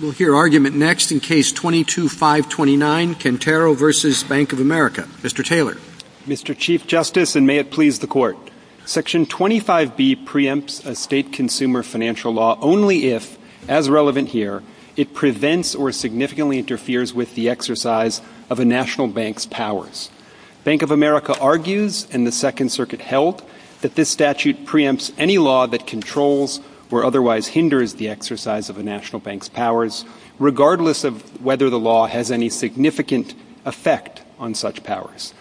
We'll hear argument next in Case 22-529, Cantero v. Bank of America. Mr. Taylor. Mr. Chief Justice, and may it please the Court. Section 25B preempts a state consumer financial law only if, as relevant here, it prevents or significantly interferes with the exercise of a national bank's powers. Bank of America argues, and the Second Circuit held, that this statute preempts any law that controls or otherwise hinders the exercise of a national bank's powers, regardless of whether the law has any significant effect on such powers.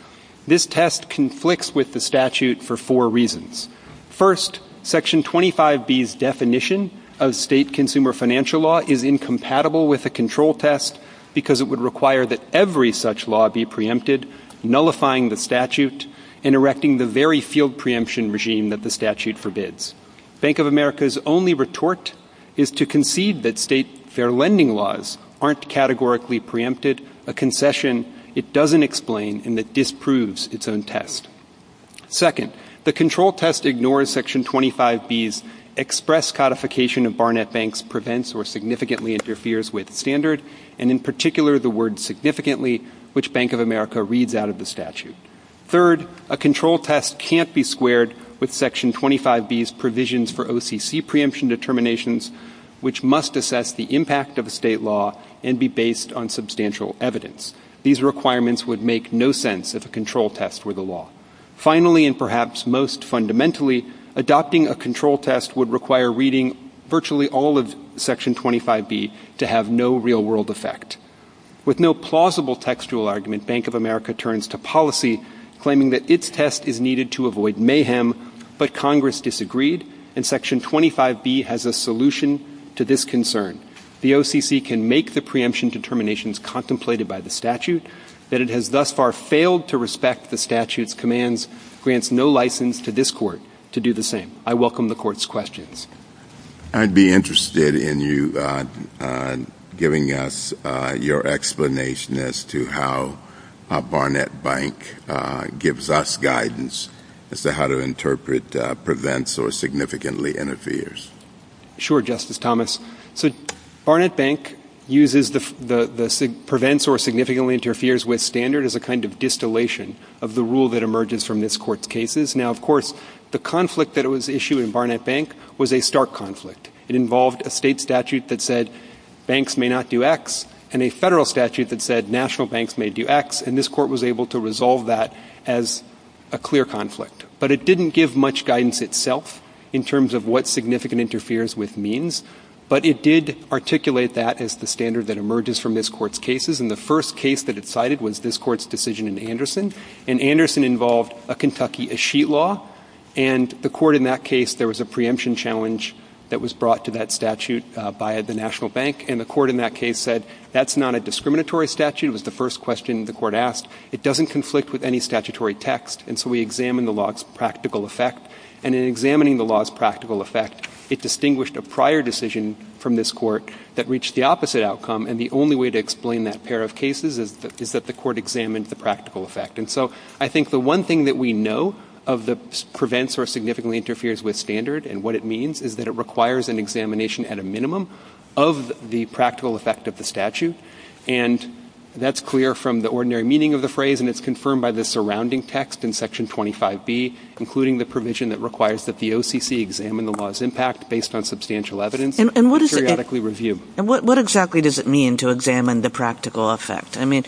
This test conflicts with the statute for four reasons. First, Section 25B's definition of state consumer financial law is incompatible with a control test because it would require that every such law be preempted, nullifying the statute and erecting the very field preemption regime that the statute forbids. Bank of America's only retort is to concede that state fair lending laws aren't categorically preempted, a concession it doesn't explain and that disproves its own test. Second, the control test ignores Section 25B's express codification of Barnett Bank's prevents or significantly interferes with standard, and in particular the word significantly, which Bank of America reads out of the statute. Third, a control test can't be squared with Section 25B's provisions for OCC preemption determinations, which must assess the impact of a state law and be based on substantial evidence. These requirements would make no sense if a control test were the law. Finally, and perhaps most fundamentally, adopting a control test would require reading virtually all of Section 25B to have no real-world effect. With no plausible textual argument, Bank of America turns to policy, claiming that its test is needed to avoid mayhem, but Congress disagreed, and Section 25B has a solution to this concern. The OCC can make the preemption determinations contemplated by the statute, but it has thus far failed to respect the statute's commands, grants no license to this Court to do the same. I welcome the Court's questions. I'd be interested in you giving us your explanation as to how Barnett Bank gives us guidance as to how to interpret prevents or significantly interferes. Sure, Justice Thomas. So Barnett Bank uses the prevents or significantly interferes with standard as a kind of distillation of the rule that emerges from this Court's cases. Now, of course, the conflict that was issued in Barnett Bank was a stark conflict. It involved a state statute that said banks may not do X, and a federal statute that said national banks may do X, and this Court was able to resolve that as a clear conflict. But it didn't give much guidance itself in terms of what significant interferes with means, but it did articulate that as the standard that emerges from this Court's cases, and the first case that it cited was this Court's decision in Anderson, and Anderson involved a Kentucky escheat law, and the Court in that case, there was a preemption challenge that was brought to that statute by the national bank, and the Court in that case said that's not a discriminatory statute. It was the first question the Court asked. It doesn't conflict with any statutory text, and so we examined the law's practical effect, and in examining the law's practical effect, it distinguished a prior decision from this Court that reached the opposite outcome, and the only way to explain that pair of cases is that the Court examined the practical effect, and so I think the one thing that we know of the prevents or significantly interferes with standard and what it means is that it requires an examination at a minimum of the practical effect of the statute, and that's clear from the ordinary meaning of the phrase, and it's confirmed by the surrounding text in Section 25B, including the provision that requires that the OCC examine the law's impact based on substantial evidence and periodically review. What exactly does it mean to examine the practical effect? I mean,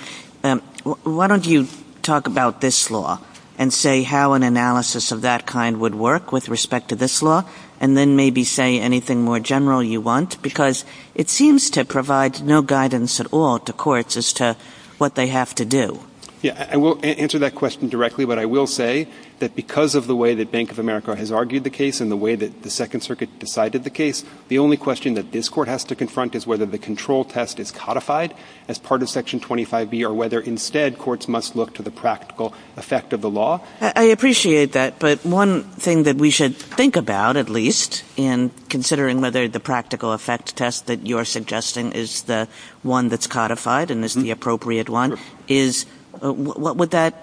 why don't you talk about this law and say how an analysis of that kind would work with respect to this law, and then maybe say anything more general you want, because it seems to provide no guidance at all to courts as to what they have to do. Yeah, and we'll answer that question directly, but I will say that because of the way that Bank of America has argued the case and the way that the Second Circuit decided the case, the only question that this Court has to confront is whether the control test is codified as part of Section 25B or whether instead courts must look to the practical effect of the law. I appreciate that, but one thing that we should think about at least in considering whether the practical effect test that you're suggesting is the one that's codified and is the appropriate one is what would that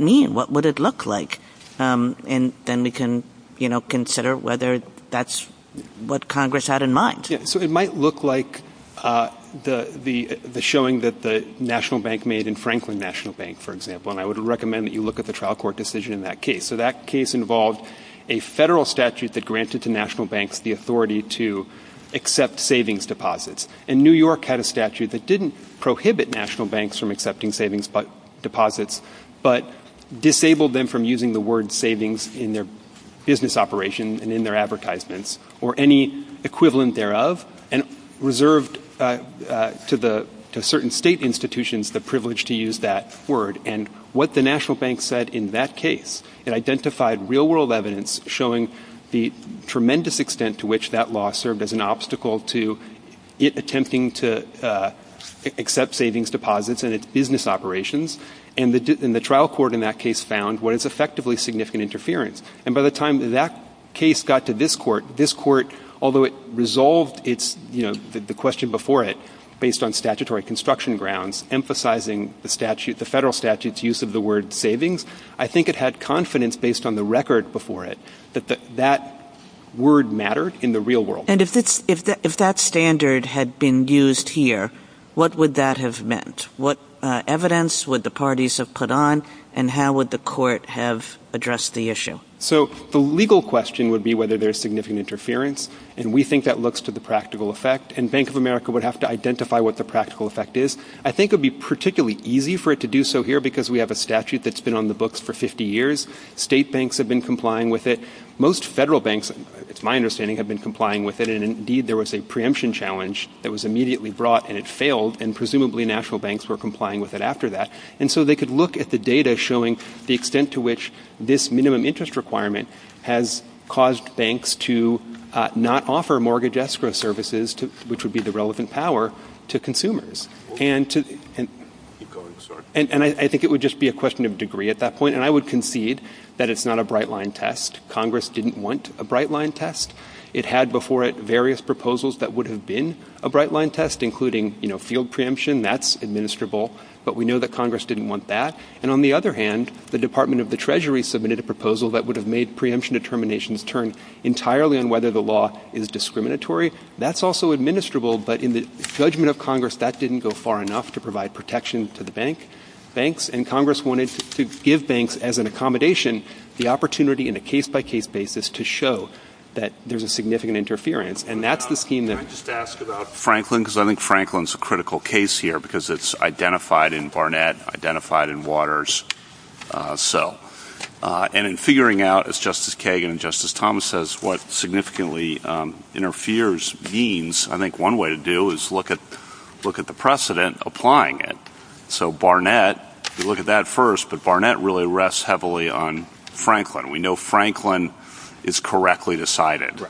mean? What would it look like? And then we can consider whether that's what Congress had in mind. Yeah, so it might look like the showing that the National Bank made in Franklin National Bank, for example, and I would recommend that you look at the trial court decision in that case. So that case involved a federal statute that granted to national banks the authority to accept savings deposits, and New York had a statute that didn't prohibit national banks from accepting savings deposits, but disabled them from using the word savings in their business operation and in their advertisements or any equivalent thereof, and reserved to certain state institutions the privilege to use that word. And what the national bank said in that case, it identified real-world evidence showing the tremendous extent to which that law served as an obstacle to it attempting to accept savings deposits in its business operations, and the trial court in that case found what is effectively significant interference. And by the time that case got to this court, this court, although it resolved the question before it based on statutory construction grounds, emphasizing the federal statute's use of the word savings, I think it had confidence based on the record before it that that word mattered in the real world. And if that standard had been used here, what would that have meant? What evidence would the parties have put on, and how would the court have addressed the issue? So the legal question would be whether there's significant interference, and we think that looks to the practical effect, and Bank of America would have to identify what the practical effect is. I think it would be particularly easy for it to do so here because we have a statute that's been on the books for 50 years. State banks have been complying with it. Most federal banks, it's my understanding, have been complying with it, and indeed there was a preemption challenge that was immediately brought, and it failed, and presumably national banks were complying with it after that. And so they could look at the data showing the extent to which this minimum interest requirement has caused banks to not offer mortgage escrow services, which would be the relevant power, to consumers. And I think it would just be a question of degree at that point, and I would concede that it's not a bright line test. Congress didn't want a bright line test. It had before it various proposals that would have been a bright line test, including field preemption. That's administrable, but we know that Congress didn't want that. And on the other hand, the Department of the Treasury submitted a proposal that would have made preemption determinations turn entirely on whether the law is discriminatory. That's also administrable, but in the judgment of Congress, that didn't go far enough to provide protection to the banks, and Congress wanted to give banks as an accommodation the opportunity in a case-by-case basis to show that there's a significant interference, and that's the scheme that- Can I just ask about Franklin, because I think Franklin's a critical case here, because it's identified in Barnett, identified in Waters. And in figuring out, as Justice Kagan and Justice Thomas said, what significantly interferes means, I think one way to do it is look at the precedent applying it. So Barnett, you look at that first, but Barnett really rests heavily on Franklin. We know Franklin is correctly decided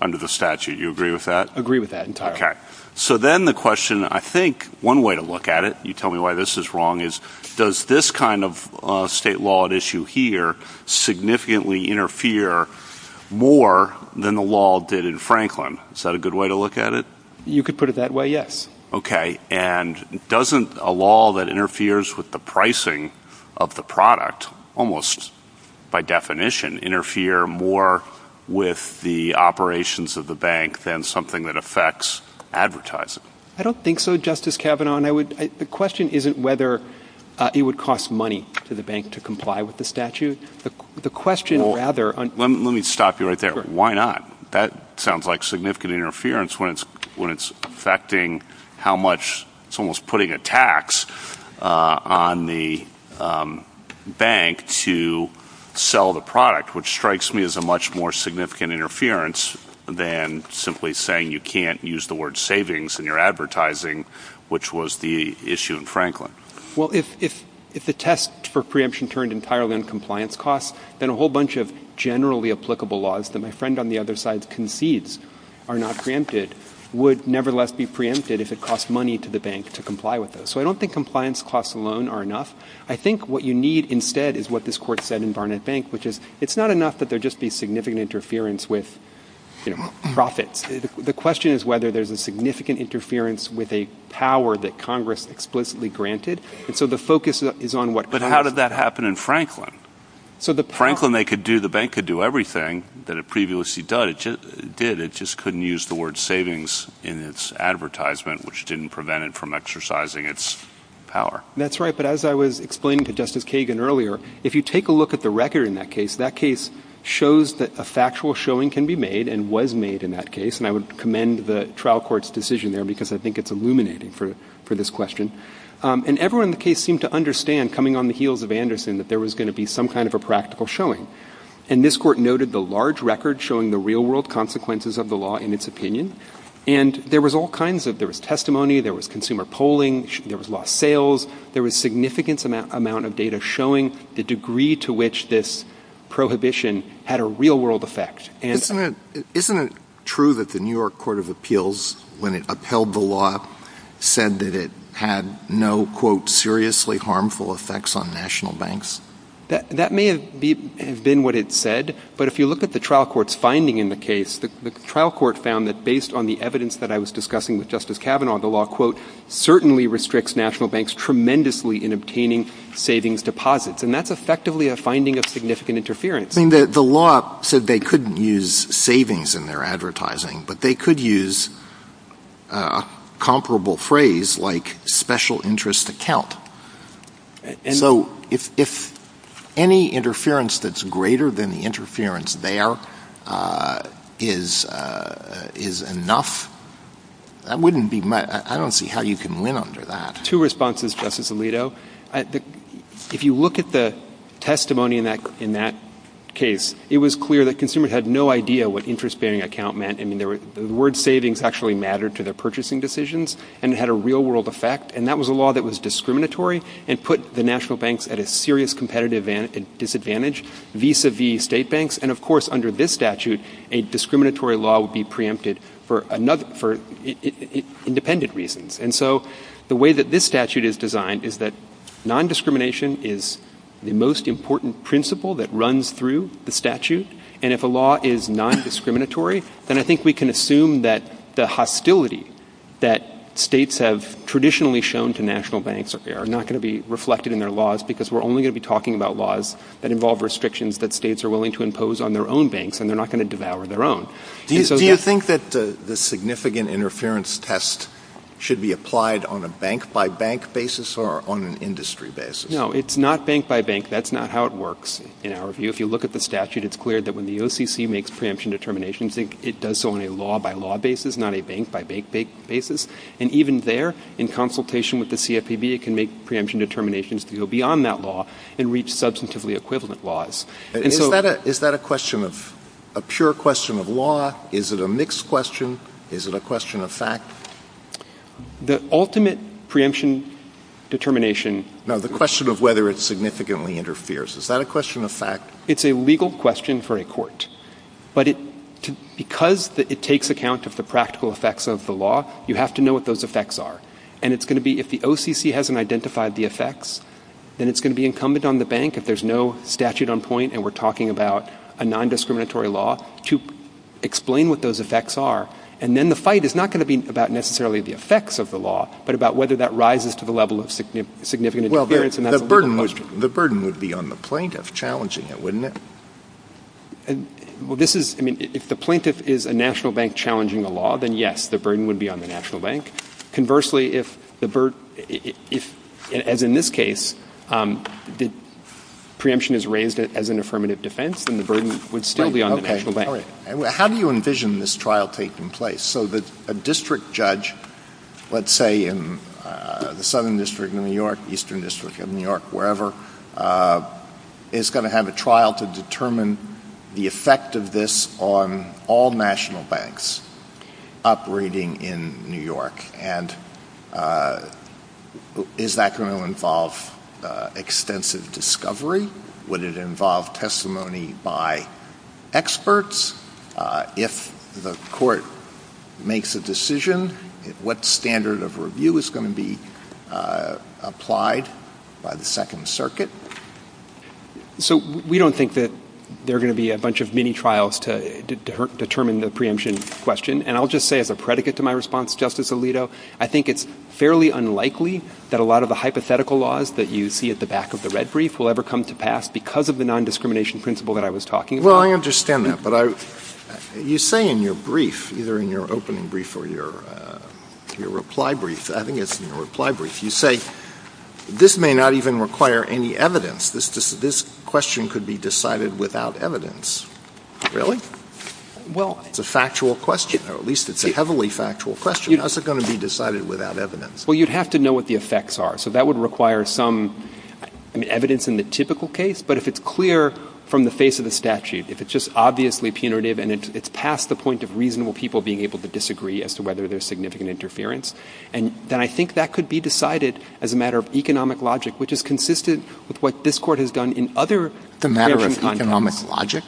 under the statute. You agree with that? Agree with that entirely. Okay. So then the question, I think one way to look at it, you tell me why this is wrong, is does this kind of state law at issue here significantly interfere more than the law did in Franklin? Is that a good way to look at it? You could put it that way, yes. Okay. And doesn't a law that interferes with the pricing of the product almost by definition interfere more with the operations of the bank than something that affects advertising? I don't think so, Justice Kavanaugh. The question isn't whether it would cost money to the bank to comply with the statute. The question rather- Let me stop you right there. Why not? That sounds like significant interference when it's affecting how much- It's almost putting a tax on the bank to sell the product, which strikes me as a much more significant interference than simply saying you can't use the word savings in your advertising, which was the issue in Franklin. Well, if the test for preemption turned entirely on compliance costs, then a whole bunch of generally applicable laws that my friend on the other side concedes are not preempted would nevertheless be preempted if it cost money to the bank to comply with those. So I don't think compliance costs alone are enough. I think what you need instead is what this court said in Barnett Bank, which is it's not enough that there just be significant interference with profits. The question is whether there's a significant interference with a power that Congress explicitly granted. So the focus is on what- But how did that happen in Franklin? In Franklin, the bank could do everything that it previously did. It just couldn't use the word savings in its advertisement, which didn't prevent it from exercising its power. That's right, but as I was explaining to Justice Kagan earlier, if you take a look at the record in that case, that case shows that a factual showing can be made and was made in that case, and I would commend the trial court's decision there because I think it's illuminated for this question. And everyone in the case seemed to understand, coming on the heels of Anderson, that there was going to be some kind of a practical showing. And this court noted the large record showing the real-world consequences of the law in its opinion, and there was all kinds of- there was testimony, there was consumer polling, there was lost sales, there was a significant amount of data showing the degree to which this prohibition had a real-world effect. Isn't it true that the New York Court of Appeals, when it upheld the law, said that it had no, quote, seriously harmful effects on national banks? That may have been what it said, but if you look at the trial court's finding in the case, the trial court found that based on the evidence that I was discussing with Justice Kavanaugh, the law, quote, certainly restricts national banks tremendously in obtaining savings deposits. And that's effectively a finding of significant interference. The law said they couldn't use savings in their advertising, but they could use a comparable phrase like special interest account. So if any interference that's greater than the interference there is enough, I don't see how you can win under that. Two responses, Justice Alito. If you look at the testimony in that case, it was clear that consumers had no idea what interest-bearing account meant. I mean, the word savings actually mattered to their purchasing decisions and had a real-world effect, and that was a law that was discriminatory and put the national banks at a serious competitive disadvantage vis-a-vis state banks. And, of course, under this statute, a discriminatory law would be preempted for independent reasons. And so the way that this statute is designed is that non-discrimination is the most important principle that runs through the statute. And if a law is non-discriminatory, then I think we can assume that the hostility that states have traditionally shown to national banks are not going to be reflected in their laws because we're only going to be talking about laws that involve restrictions that states are willing to impose on their own banks, and they're not going to devour their own. Do you think that the significant interference test should be applied on a bank-by-bank basis or on an industry basis? No, it's not bank-by-bank. That's not how it works in our view. If you look at the statute, it's clear that when the OCC makes preemption determinations, it does so on a law-by-law basis, not a bank-by-bank basis. And even there, in consultation with the CFPB, it can make preemption determinations that go beyond that law and reach substantively equivalent laws. Is that a question of a pure question of law? Is it a mixed question? Is it a question of fact? The ultimate preemption determination... No, the question of whether it significantly interferes. Is that a question of fact? It's a legal question for a court. But because it takes account of the practical effects of the law, you have to know what those effects are. And it's going to be if the OCC hasn't identified the effects, then it's going to be incumbent on the bank, if there's no statute on point and we're talking about a non-discriminatory law, to explain what those effects are. And then the fight is not going to be about necessarily the effects of the law, but about whether that rises to the level of significant interference. The burden would be on the plaintiff challenging it, wouldn't it? If the plaintiff is a national bank challenging a law, then yes, the burden would be on the national bank. Conversely, if, as in this case, the preemption is raised as an affirmative defense, then the burden would still be on the national bank. How do you envision this trial taking place? So that a district judge, let's say in the Southern District of New York, Eastern District of New York, wherever, is going to have a trial to determine the effect of this on all national banks operating in New York? And is that going to involve extensive discovery? Would it involve testimony by experts? If the court makes a decision, what standard of review is going to be applied by the Second Circuit? So we don't think that there are going to be a bunch of mini-trials to determine the preemption question. And I'll just say as a predicate to my response, Justice Alito, I think it's fairly unlikely that a lot of the hypothetical laws that you see at the back of the red brief will ever come to pass because of the nondiscrimination principle that I was talking about. Well, I understand that, but you say in your brief, either in your opening brief or your reply brief, I think it's in your reply brief, you say this may not even require any evidence. This question could be decided without evidence. Really? Well... It's a factual question, or at least it's a heavily factual question. How's it going to be decided without evidence? Well, you'd have to know what the effects are. So that would require some evidence in the typical case, but if it's clear from the face of the statute, if it's just obviously punitive and it's past the point of reasonable people being able to disagree as to whether there's significant interference, then I think that could be decided as a matter of economic logic, which is consistent with what this court has done in other... The matter of economic logic?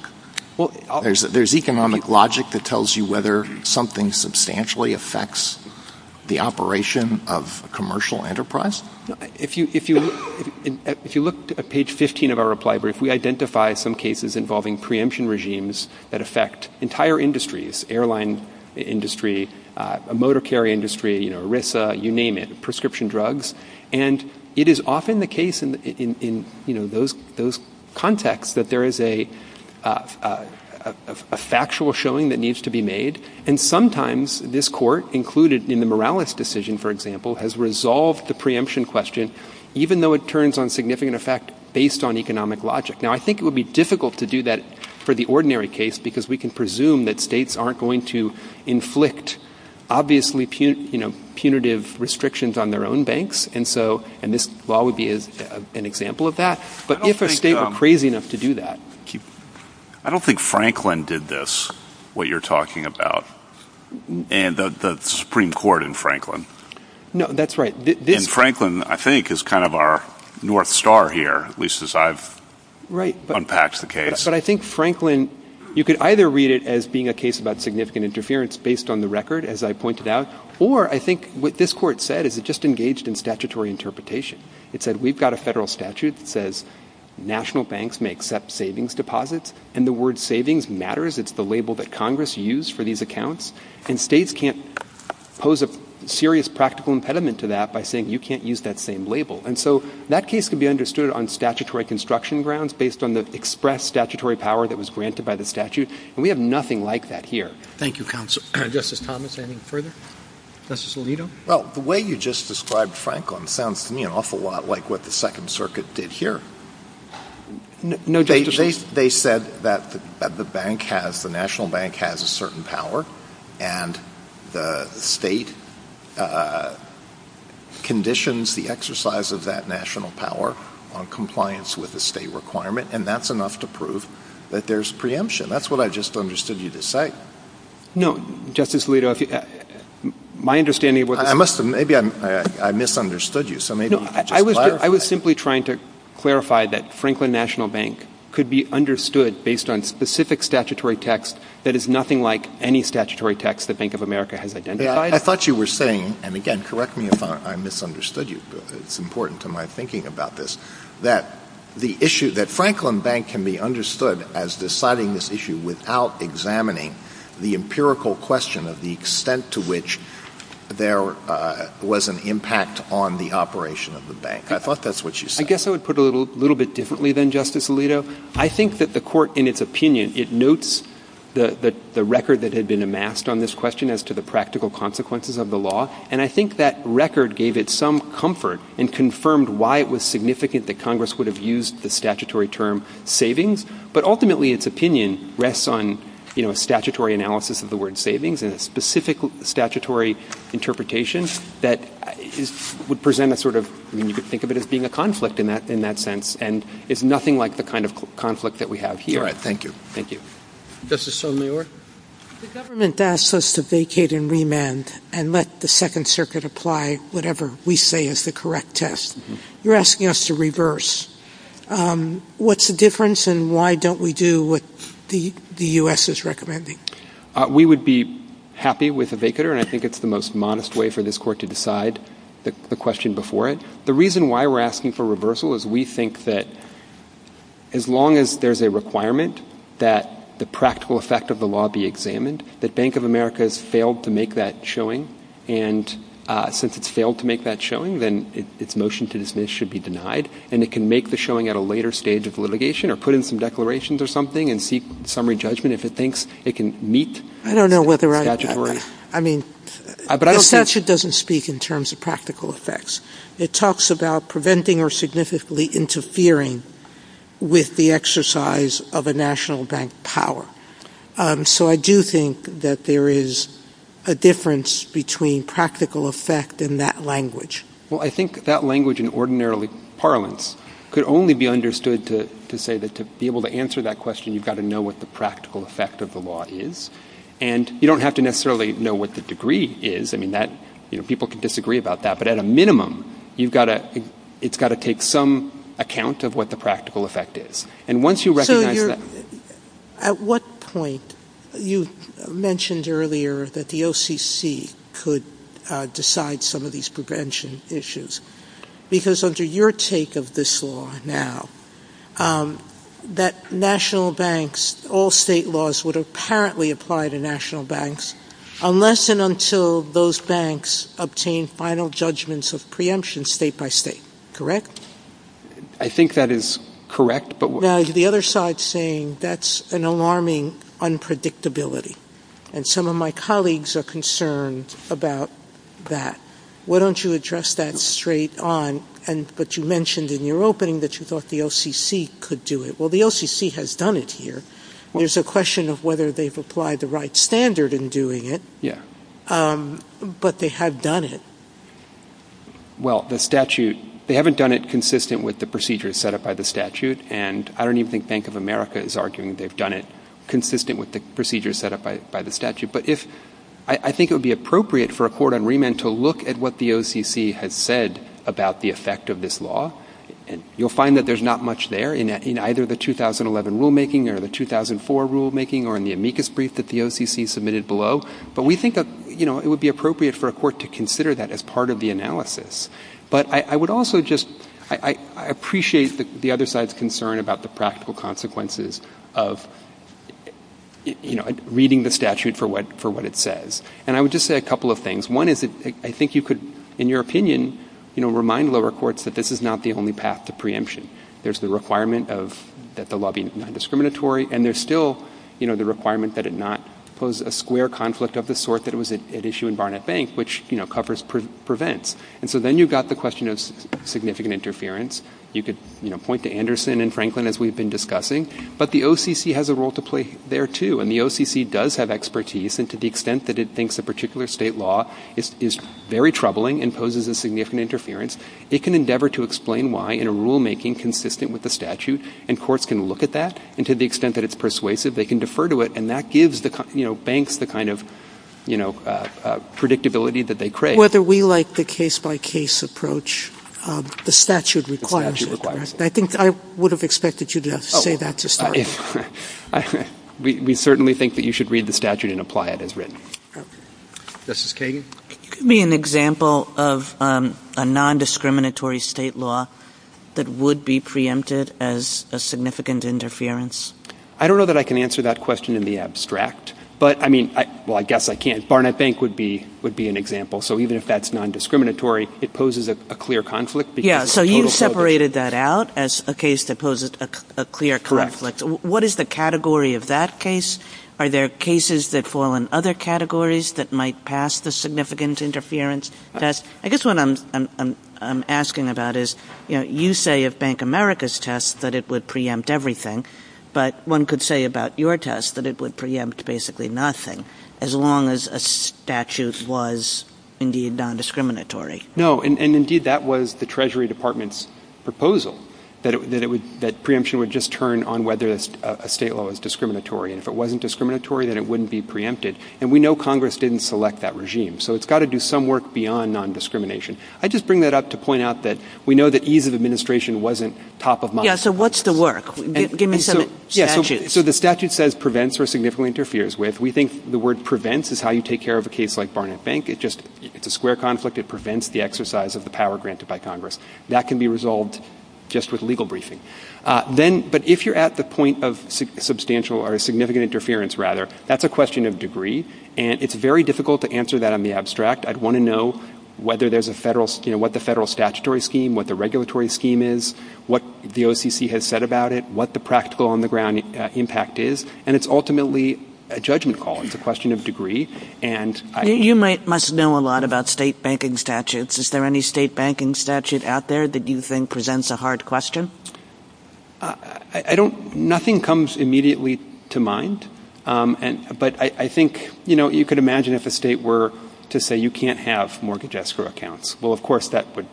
Well... There's economic logic that tells you whether something substantially affects the operation of commercial enterprise? If you look at page 15 of our reply brief, we identify some cases involving preemption regimes that affect entire industries, airline industry, motor carrier industry, ERISA, you name it, prescription drugs, and it is often the case in those contexts that there is a factual showing that needs to be made, and sometimes this court, included in the Morales decision, for example, has resolved the preemption question even though it turns on significant effect based on economic logic. Now, I think it would be difficult to do that for the ordinary case because we can presume that states aren't going to inflict obviously punitive restrictions on their own banks, and this law would be an example of that, but if a state were crazy enough to do that... I don't think Franklin did this, what you're talking about, and the Supreme Court in Franklin. No, that's right. And Franklin, I think, is kind of our north star here, at least as I've unpacked the case. But I think Franklin, you could either read it as being a case about significant interference based on the record, as I pointed out, or I think what this court said is it just engaged in statutory interpretation. It said we've got a federal statute that says national banks may accept savings deposits, and the word savings matters. It's the label that Congress used for these accounts, and states can't pose a serious practical impediment to that by saying you can't use that same label. And so that case could be understood on statutory construction grounds based on the express statutory power that was granted by the statute, and we have nothing like that here. Thank you, Justice Thomas. Any further? Justice Alito? Well, the way you just described Franklin sounds to me an awful lot like what the Second Circuit did here. They said that the national bank has a certain power, and the state conditions the exercise of that national power on compliance with the state requirement, and that's enough to prove that there's preemption. That's what I just understood you to say. No, Justice Alito. My understanding was... Maybe I misunderstood you. No, I was simply trying to clarify that Franklin National Bank could be understood based on specific statutory text that is nothing like any statutory text the Bank of America has identified. I thought you were saying, and again, correct me if I misunderstood you, but it's important to my thinking about this, that the issue that Franklin Bank can be understood as deciding this issue without examining the empirical question of the extent to which there was an impact on the operation of the bank. I thought that's what you said. I guess I would put it a little bit differently than Justice Alito. I think that the Court, in its opinion, it notes the record that had been amassed on this question as to the practical consequences of the law, and I think that record gave it some comfort and confirmed why it was significant that Congress would have used the statutory term savings. But ultimately, its opinion rests on, you know, a statutory analysis of the word savings and a specific statutory interpretation that would present a sort of... You could think of it as being a conflict in that sense and is nothing like the kind of conflict that we have here. All right. Thank you. Thank you. Justice Sotomayor? The government asked us to vacate and remand and let the Second Circuit apply whatever we say is the correct test. You're asking us to reverse. What's the difference, and why don't we do what the US is recommending? We would be happy with a vacater, and I think it's the most modest way for this Court to decide the question before it. The reason why we're asking for reversal is we think that as long as there's a requirement that the practical effect of the law be examined, that Bank of America has failed to make that showing, and since it's failed to make that showing, then its motion to dismiss should be denied, and it can make the showing at a later stage of litigation or put in some declarations or something and seek summary judgment if it thinks it can meet... I don't know whether I... Statutory... I mean, the statute doesn't speak in terms of practical effects. It talks about preventing or significantly interfering with the exercise of a national bank power. So I do think that there is a difference between practical effect and that language. Well, I think that language in ordinary parlance could only be understood to say that to be able to answer that question, you've got to know what the practical effect of the law is, and you don't have to necessarily know what the degree is. I mean, people can disagree about that, but at a minimum, it's got to take some account of what the practical effect is, and once you recognize that... At what point... You mentioned earlier that the OCC could decide some of these prevention issues, because under your take of this law now, that national banks, all state laws, would apparently apply to national banks unless and until those banks obtain final judgments of preemption state by state, correct? I think that is correct, but... Now, the other side is saying that's an alarming unpredictability, and some of my colleagues are concerned about that. Why don't you address that straight on? But you mentioned in your opening that you thought the OCC could do it. Well, the OCC has done it here. There's a question of whether they've applied the right standard in doing it, but they have done it. Well, the statute... They haven't done it consistent with the procedures set up by the statute, and I don't even think Bank of America is arguing they've done it consistent with the procedures set up by the statute, but I think it would be appropriate for a court on remand to look at what the OCC has said about the effect of this law. You'll find that there's not much there in either the 2011 rulemaking or the 2004 rulemaking or in the amicus brief that the OCC submitted below, but we think it would be appropriate for a court to consider that as part of the analysis. But I would also just... I appreciate the other side's concern about the practical consequences of reading the statute for what it says, and I would just say a couple of things. One is that I think you could, in your opinion, remind lower courts that this is not the only path to preemption. There's the requirement that the law be non-discriminatory, and there's still the requirement that it not pose a square conflict of the sort that it was at issue in Barnett Bank, which covers, prevents. And so then you've got the question of significant interference. You could, you know, point to Anderson and Franklin as we've been discussing, but the OCC has a role to play there too, and the OCC does have expertise, and to the extent that it thinks a particular state law is very troubling and poses a significant interference, it can endeavor to explain why in a rulemaking consistent with the statute, and courts can look at that, and to the extent that it's persuasive, they can defer to it, and that gives the banks the kind of, you know, predictability that they crave. So whether we like the case-by-case approach, the statute requires it. I think I would have expected you to say that to start. We certainly think that you should read the statute and apply it as written. Justice Kagan? Could it be an example of a non-discriminatory state law that would be preempted as a significant interference? I don't know that I can answer that question in the abstract, but, I mean, well, I guess I can. Barnett Bank would be an example. So even if that's non-discriminatory, it poses a clear conflict. Yeah, so you've separated that out as a case that poses a clear conflict. What is the category of that case? Are there cases that fall in other categories that might pass the significant interference test? I guess what I'm asking about is, you know, you say of Bank America's test that it would preempt everything, but one could say about your test that it would preempt basically nothing as long as a statute was indeed non-discriminatory. No, and indeed that was the Treasury Department's proposal that preemption would just turn on whether a state law is discriminatory. And if it wasn't discriminatory, then it wouldn't be preempted. And we know Congress didn't select that regime. So it's got to do some work beyond non-discrimination. I just bring that up to point out that we know that ease of administration wasn't top of mind. Yeah, so what's the work? Give me some statutes. So the statute says prevents or significantly interferes with. We think the word prevents is how you take care of a case like Barnett Bank. It's a square conflict. It prevents the exercise of the power granted by Congress. That can be resolved just with legal briefing. But if you're at the point of substantial or significant interference, rather, that's a question of degree, and it's very difficult to answer that in the abstract. I'd want to know whether there's a federal... you know, what the federal statutory scheme, what the regulatory scheme is, what the OCC has said about it, what the practical on-the-ground impact is, and it's ultimately a judgment call. It's a question of degree, and... You must know a lot about state banking statutes. Is there any state banking statute out there that you think presents a hard question? I don't... nothing comes immediately to mind. But I think, you know, you could imagine if a state were to say you can't have mortgage escrow accounts. Well, of course, that would...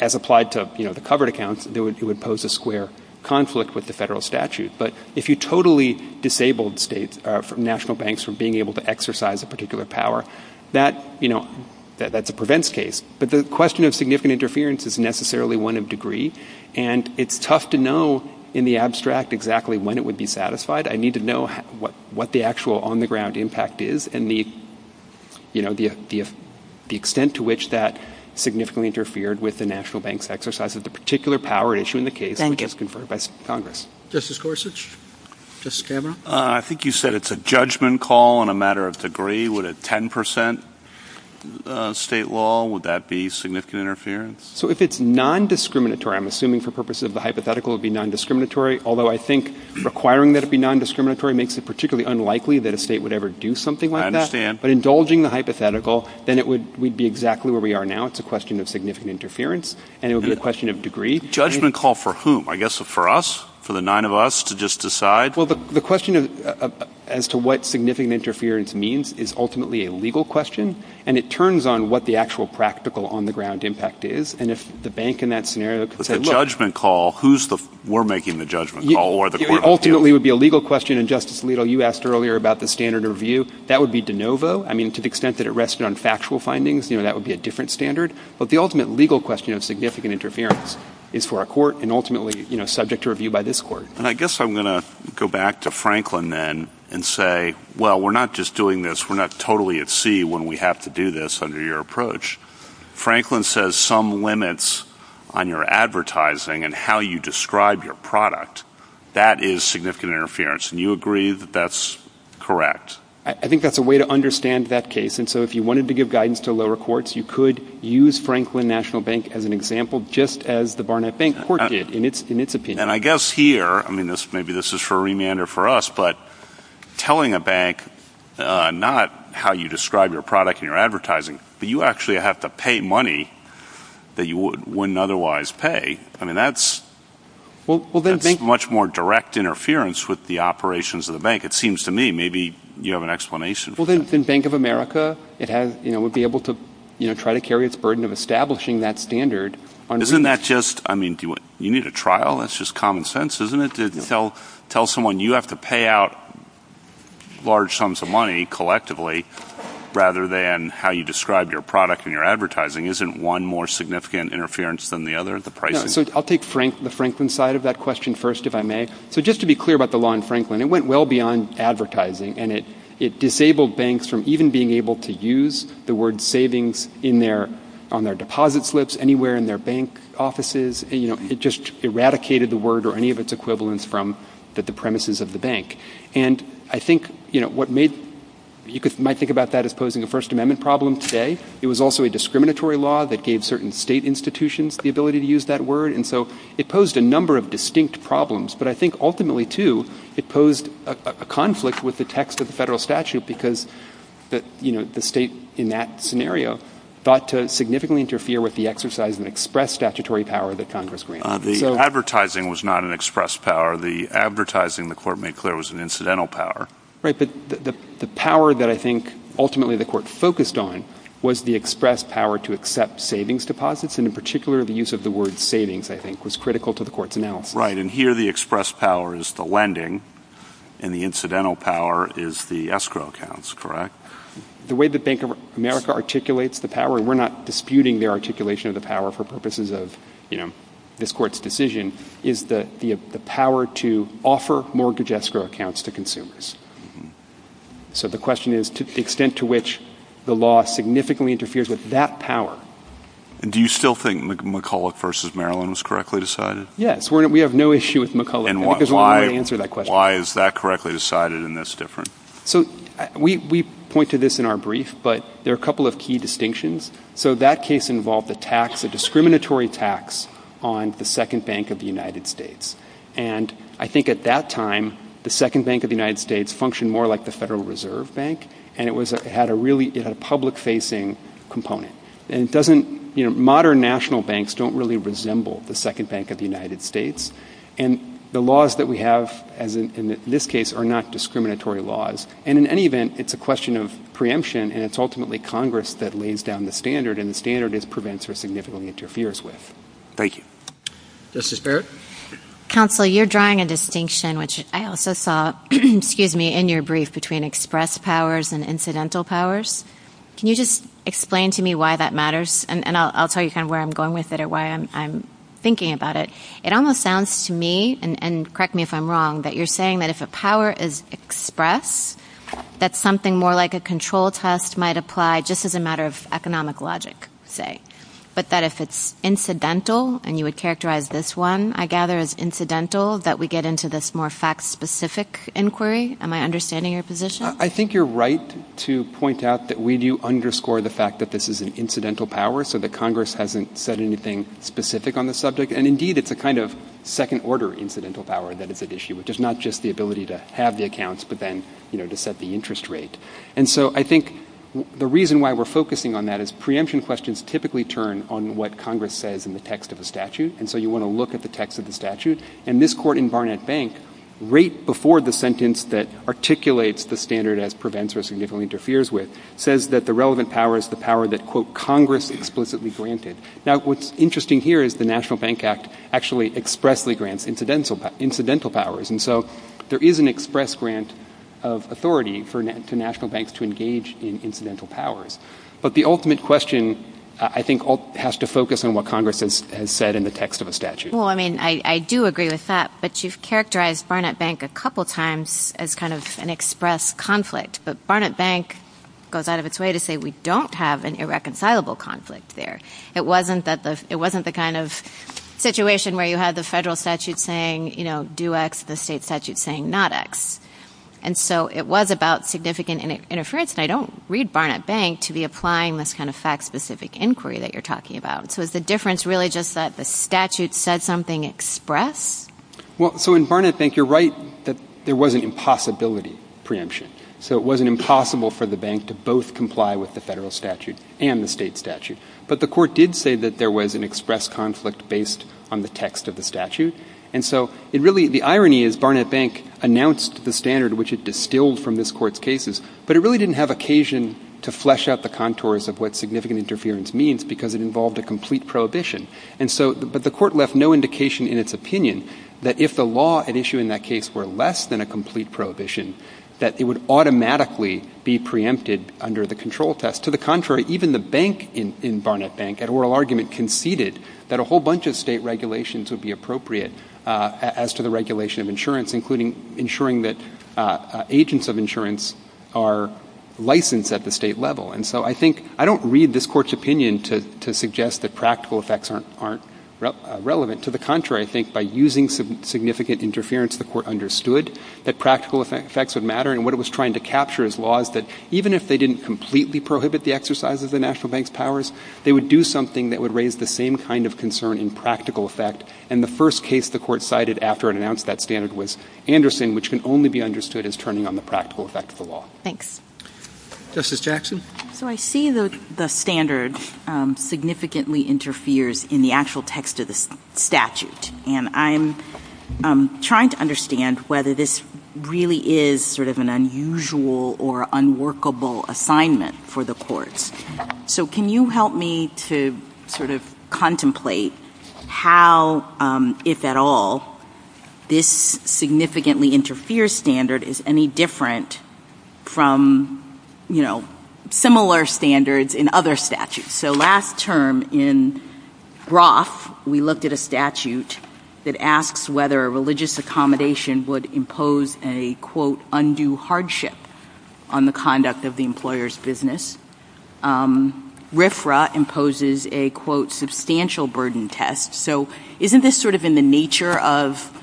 as applied to, you know, the covered accounts, it would pose a square conflict with the federal statute. But if you totally disabled states, national banks, from being able to exercise a particular power, that, you know, that's a prevents case. But the question of significant interference is necessarily one of degree, and it's tough to know in the abstract exactly when it would be satisfied. I need to know what the actual on-the-ground impact is and the, you know, the extent to which that significantly interfered with the national bank's exercise of the particular power issue in the case Justice Gorsuch? I think you said it's a judgment call on a matter of degree. Would a 10% state law, would that be significant interference? So if it's non-discriminatory, I'm assuming for purposes of the hypothetical, it would be non-discriminatory, although I think requiring that it be non-discriminatory makes it particularly unlikely that a state would ever do something like that. I understand. But indulging the hypothetical, then it would... we'd be exactly where we are now. It's a question of significant interference, and it would be a question of degree. A judgment call for whom? I guess for us? For the nine of us to just decide? Well, the question of... as to what significant interference means is ultimately a legal question, and it turns on what the actual practical on-the-ground impact is, and if the bank in that scenario could say, look... If it's a judgment call, who's the... we're making the judgment call, or the court... It ultimately would be a legal question, and Justice Alito, you asked earlier about the standard of review. That would be de novo. I mean, to the extent that it rested on factual findings, you know, that would be a different standard. But the ultimate legal question of significant interference is for a court, and ultimately, you know, subject to review by this court. And I guess I'm going to go back to Franklin then and say, well, we're not just doing this. We're not totally at sea when we have to do this under your approach. Franklin says some limits on your advertising and how you describe your product. That is significant interference, and you agree that that's correct? I think that's a way to understand that case, and so if you wanted to give guidance to lower courts, you could use Franklin National Bank as an example, just as the Barnett Bank court did, in its opinion. And I guess here, I mean, maybe this is for a remander for us, but telling a bank not how you describe your product and your advertising, but you actually have to pay money that you wouldn't otherwise pay, I mean, that's much more direct interference with the operations of the bank, it seems to me. Maybe you have an explanation for that. Well, then Bank of America, you know, would be able to, you know, try to carry its burden of establishing that standard. Isn't that just, I mean, you need a trial? That's just common sense, isn't it? To tell someone you have to pay out large sums of money collectively rather than how you describe your product and your advertising. Isn't one more significant interference than the other? I'll take the Franklin side of that question first, if I may. So just to be clear about the law in Franklin, it went well beyond advertising, and it disabled banks from even being able to use the word savings on their deposit slips, anywhere in their bank offices. It just eradicated the word or any of its equivalents from the premises of the bank. And I think, you know, you might think about that as posing a First Amendment problem today. It was also a discriminatory law that gave certain state institutions the ability to use that word, and so it posed a number of distinct problems, but I think ultimately, too, it posed a conflict with the text of the federal statute because the state, in that scenario, thought to significantly interfere with the exercise of express statutory power that Congress granted. The advertising was not an express power. The advertising, the court made clear, was an incidental power. Right, but the power that I think ultimately the court focused on was the express power to accept savings deposits, and in particular, the use of the word savings, I think, was critical to the court's analysis. Right, and here the express power is the lending, and the incidental power is the escrow accounts, correct? The way the Bank of America articulates the power, and we're not disputing their articulation of the power for purposes of, you know, this court's decision, is the power to offer mortgage escrow accounts to consumers. So the question is the extent to which the law significantly interferes with that power. Do you still think McCulloch v. Maryland was correctly decided? Yes, we have no issue with McCulloch. I think there's one way to answer that question. Why is that correctly decided, and that's different? So we point to this in our brief, but there are a couple of key distinctions. So that case involved a tax, a discriminatory tax, on the Second Bank of the United States. And I think at that time, the Second Bank of the United States functioned more like the Federal Reserve Bank, and it had a really public-facing component. And it doesn't, you know, modern national banks don't really resemble the Second Bank of the United States, and the laws that we have in this case are not discriminatory laws. And in any event, it's a question of preemption, and it's ultimately Congress that lays down the standard, and the standard is prevents or significantly interferes with. Thank you. Justice Barrett? Counsel, you're drawing a distinction, which I also saw, excuse me, in your brief, between express powers and incidental powers. Can you just explain to me why that matters? And I'll tell you kind of where I'm going with it or why I'm thinking about it. It almost sounds to me, and correct me if I'm wrong, that you're saying that if a power is expressed, that something more like a control test might apply just as a matter of economic logic, say, but that if it's incidental, and you would characterize this one, I gather, as incidental, that we get into this more fact-specific inquiry. Am I understanding your position? I think you're right to point out that we do underscore the fact that this is an incidental power so that Congress hasn't said anything specific on the subject. And indeed, it's a kind of second-order incidental power that is at issue, which is not just the ability to have the accounts but then, you know, to set the interest rate. And so I think the reason why we're focusing on that is preemption questions typically turn on what Congress says in the text of the statute, and so you want to look at the text of the statute. And this court in Barnett Bank, right before the sentence that articulates the standard as prevents or significantly interferes with, says that the relevant power is the power that, quote, Congress explicitly granted. Now, what's interesting here is the National Bank Act actually expressly grants incidental powers. And so there is an express grant of authority for national banks to engage in incidental powers. But the ultimate question, I think, has to focus on what Congress has said in the text of the statute. Well, I mean, I do agree with that, but you've characterized Barnett Bank a couple times as kind of an express conflict. But Barnett Bank goes out of its way to say we don't have an irreconcilable conflict there. It wasn't the kind of situation where you had the federal statute saying, you know, do X, the state statute saying not X. And so it was about significant interference, and I don't read Barnett Bank to be applying this kind of fact-specific inquiry that you're talking about. So is the difference really just that the statute says something expressed? Well, so in Barnett Bank, you're right that there was an impossibility preemption. So it wasn't impossible for the bank to both comply with the federal statute and the state statute. But the court did say that there was an express conflict based on the text of the statute. And so it really... The irony is Barnett Bank announced the standard which it distilled from this court's cases, but it really didn't have occasion to flesh out the contours of what significant interference means because it involved a complete prohibition. And so... But the court left no indication in its opinion that if the law at issue in that case were less than a complete prohibition, that it would automatically be preempted under the control test. To the contrary, even the bank in Barnett Bank, at oral argument, conceded that a whole bunch of state regulations would be appropriate as to the regulation of insurance, including ensuring that agents of insurance are licensed at the state level. And so I think... I don't read this court's opinion to suggest that practical effects aren't relevant. To the contrary, I think, by using significant interference, the court understood that practical effects would matter, and what it was trying to capture is laws that even if they didn't completely prohibit the exercise of the national bank's powers, they would do something that would raise the same kind of concern in practical effect. And the first case the court cited after it announced that standard was Anderson, which can only be understood as turning on the practical effect of the law. Thanks. Justice Jackson? So I see that the standard significantly interferes in the actual text of the statute, and I'm trying to understand whether this really is sort of an unusual or unworkable assignment for the courts. So can you help me to sort of contemplate how, if at all, this significantly interferes standard is any different from, you know, similar standards in other statutes? So last term in Groff, we looked at a statute that asks whether religious accommodation would impose a, quote, undue hardship on the conduct of the employer's business. RFRA imposes a, quote, substantial burden test. So isn't this sort of in the nature of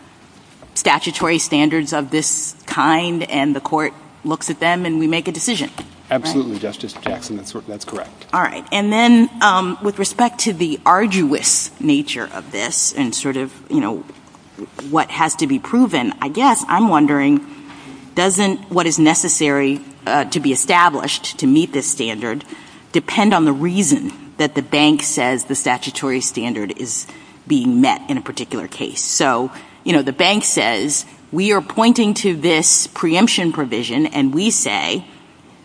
statutory standards of this kind, and the court looks at them, and we make a decision? Absolutely, Justice Jackson. That's correct. All right. And then with respect to the arduous nature of this and sort of, you know, what has to be proven, I guess I'm wondering, doesn't what is necessary to be established to meet this standard depend on the reason that the bank says the statutory standard is being met in a particular case? So, you know, the bank says, we are pointing to this preemption provision, and we say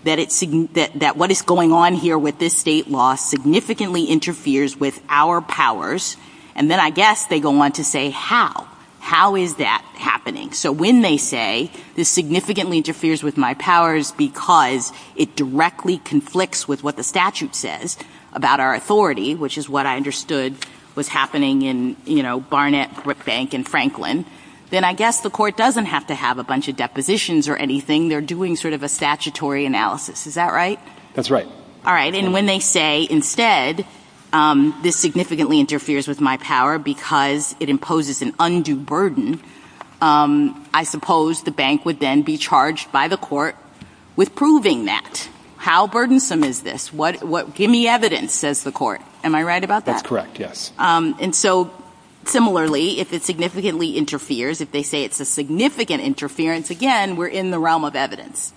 that what is going on here with this state law significantly interferes with our powers, and then I guess they go on to say how. How is that happening? So when they say this significantly interferes with my powers because it directly conflicts with what the statute says about our authority, which is what I understood was happening in, you know, Barnett, Brookbank, and Franklin, then I guess the court doesn't have to have a bunch of depositions or anything. They're doing sort of a statutory analysis. Is that right? That's right. All right, and when they say, instead this significantly interferes with my power because it imposes an undue burden, I suppose the bank would then be charged by the court with proving that. How burdensome is this? Give me evidence, says the court. Am I right about that? That's correct, yes. And so similarly, if it significantly interferes, if they say it's a significant interference, again, we're in the realm of evidence.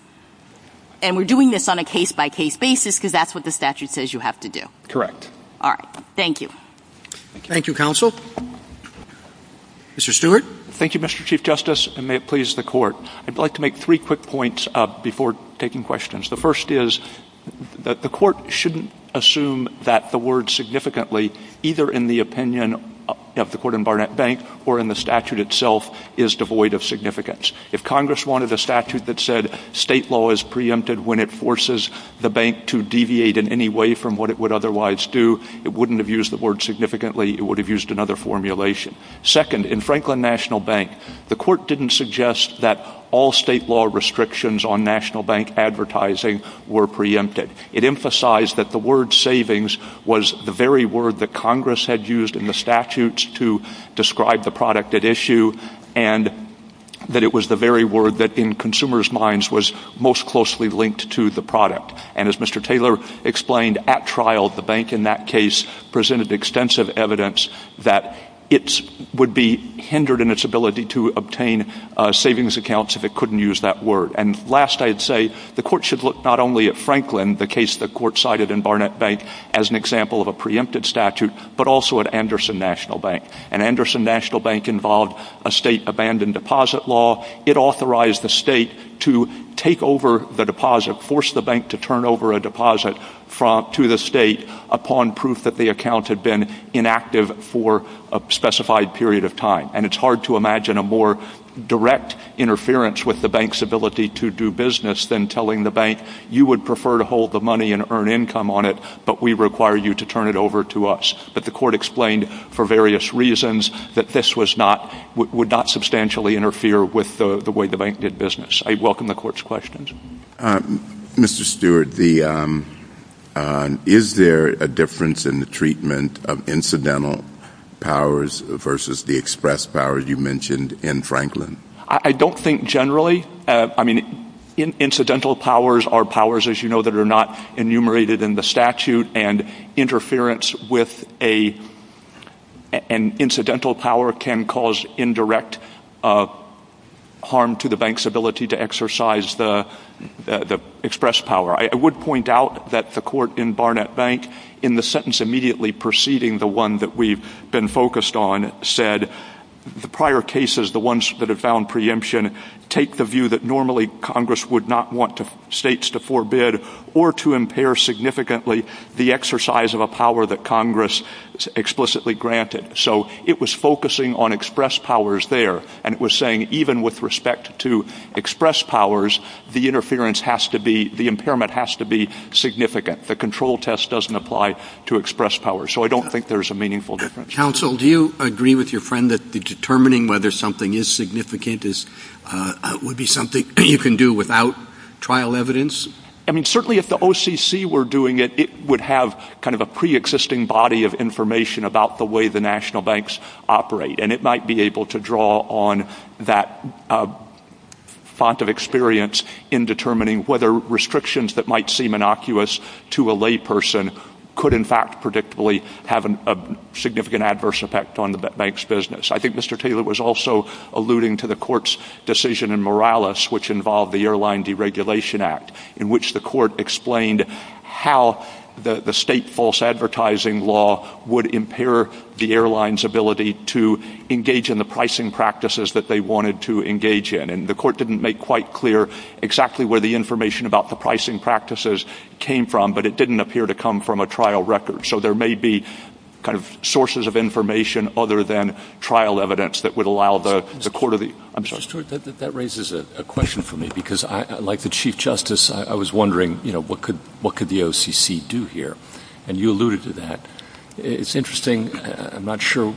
And we're doing this on a case-by-case basis because that's what the statute says you have to do. Correct. All right, thank you. Thank you, counsel. Mr. Stewart. Thank you, Mr. Chief Justice, and may it please the court. I'd like to make three quick points before taking questions. The first is that the court shouldn't assume that the word significantly, either in the opinion of the court in Barnett Bank or in the statute itself, is devoid of significance. If Congress wanted a statute that said state law is preempted when it forces the bank to deviate in any way from what it would otherwise do, it wouldn't have used the word significantly. It would have used another formulation. Second, in Franklin National Bank, the court didn't suggest that all state law restrictions on national bank advertising were preempted. It emphasized that the word savings was the very word that Congress had used in the statutes to describe the product at issue and that it was the very word that in consumers' minds was most closely linked to the product. And as Mr. Taylor explained at trial, the bank in that case presented extensive evidence that it would be hindered in its ability to obtain savings accounts if it couldn't use that word. And last, I'd say the court should look not only at Franklin, the case the court cited in Barnett Bank, as an example of a preempted statute, but also at Anderson National Bank. And Anderson National Bank involved a state abandoned deposit law. It authorized the state to take over the deposit, force the bank to turn over a deposit to the state upon proof that the account had been inactive for a specified period of time. And it's hard to imagine a more direct interference with the bank's ability to do business than telling the bank, you would prefer to hold the money and earn income on it, but we require you to turn it over to us. But the court explained for various reasons that this would not substantially interfere with the way the bank did business. I welcome the court's questions. Mr. Stewart, is there a difference in the treatment of incidental powers versus the express powers you mentioned in Franklin? I don't think generally. I mean, incidental powers are powers, as you know, that are not enumerated in the statute, and interference with an incidental power can cause indirect harm to the bank's ability to exercise the express power. I would point out that the court in Barnett Bank, in the sentence immediately preceding the one that we've been focused on, said the prior cases, the ones that have found preemption, take the view that normally Congress would not want states to forbid or to impair significantly the exercise of a power that Congress explicitly granted. So it was focusing on express powers there, and it was saying even with respect to express powers, the interference has to be... the impairment has to be significant. The control test doesn't apply to express powers. So I don't think there's a meaningful difference. Counsel, do you agree with your friend that determining whether something is significant would be something you can do without trial evidence? I mean, certainly if the OCC were doing it, it would have kind of a preexisting body of information about the way the national banks operate, and it might be able to draw on that font of experience in determining whether restrictions that might seem innocuous to a layperson could in fact predictably have a significant adverse effect on the bank's business. I think Mr. Taylor was also alluding to the court's decision in Morales which involved the Airline Deregulation Act, in which the court explained how the state false advertising law would impair the airline's ability to engage in the pricing practices that they wanted to engage in. And the court didn't make quite clear exactly where the information about the pricing practices came from, but it didn't appear to come from a trial record. So there may be kind of sources of information other than trial evidence that would allow the court... That raises a question for me, because like the Chief Justice, I was wondering what could the OCC do here, and you alluded to that. It's interesting, I'm not sure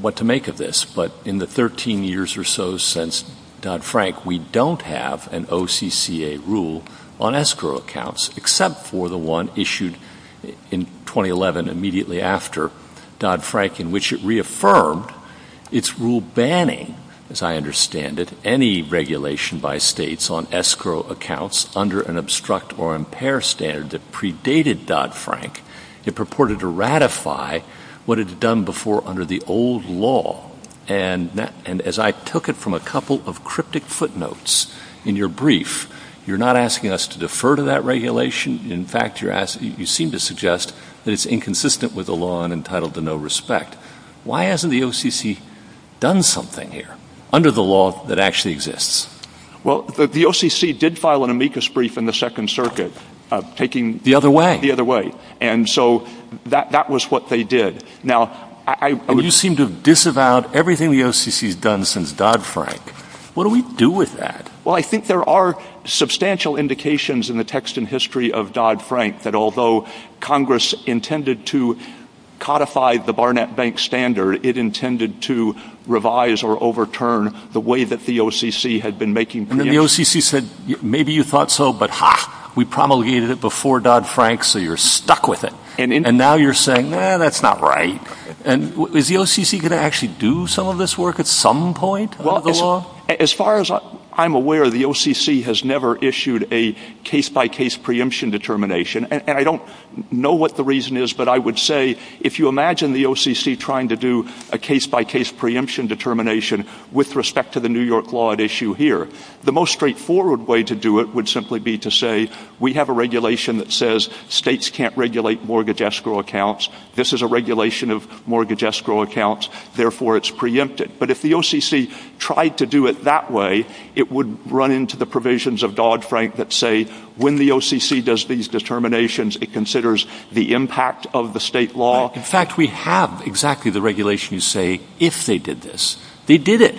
what to make of this, but in the 13 years or so since Dodd-Frank, we don't have an OCCA rule on escrow accounts except for the one issued in 2011, immediately after Dodd-Frank, in which it reaffirmed its rule banning, as I understand it, any regulation by states on escrow accounts under an obstruct or impair standard that predated Dodd-Frank. It purported to ratify what it had done before under the old law. And as I took it from a couple of cryptic footnotes in your brief, you're not asking us to defer to that regulation. In fact, you seem to suggest that it's inconsistent with the law and entitled to no respect. Why hasn't the OCC done something here under the law that actually exists? Well, the OCC did file an amicus brief in the Second Circuit taking the other way, and so that was what they did. Now, you seem to have disavowed everything the OCC has done since Dodd-Frank. What do we do with that? Well, I think there are substantial indications in the text and history of Dodd-Frank that although Congress intended to codify the Barnett Bank standard, it intended to revise or overturn the way that the OCC had been making preemptions. And the OCC said, maybe you thought so, but ha! We promulgated it before Dodd-Frank, so you're stuck with it. And now you're saying, no, that's not right. And is the OCC going to actually do some of this work at some point under the law? As far as I'm aware, the OCC has never issued a case-by-case preemption determination, and I don't know what the reason is, but I would say, if you imagine the OCC trying to do a case-by-case preemption determination with respect to the New York law at issue here, the most straightforward way to do it would simply be to say, we have a regulation that says states can't regulate mortgage escrow accounts, this is a regulation of mortgage escrow accounts, therefore it's preempted. But if the OCC tried to do it that way, it would run into the provisions of Dodd-Frank that say when the OCC does these determinations, it considers the impact of the state law. In fact, we have exactly the regulations that say if they did this, they did it.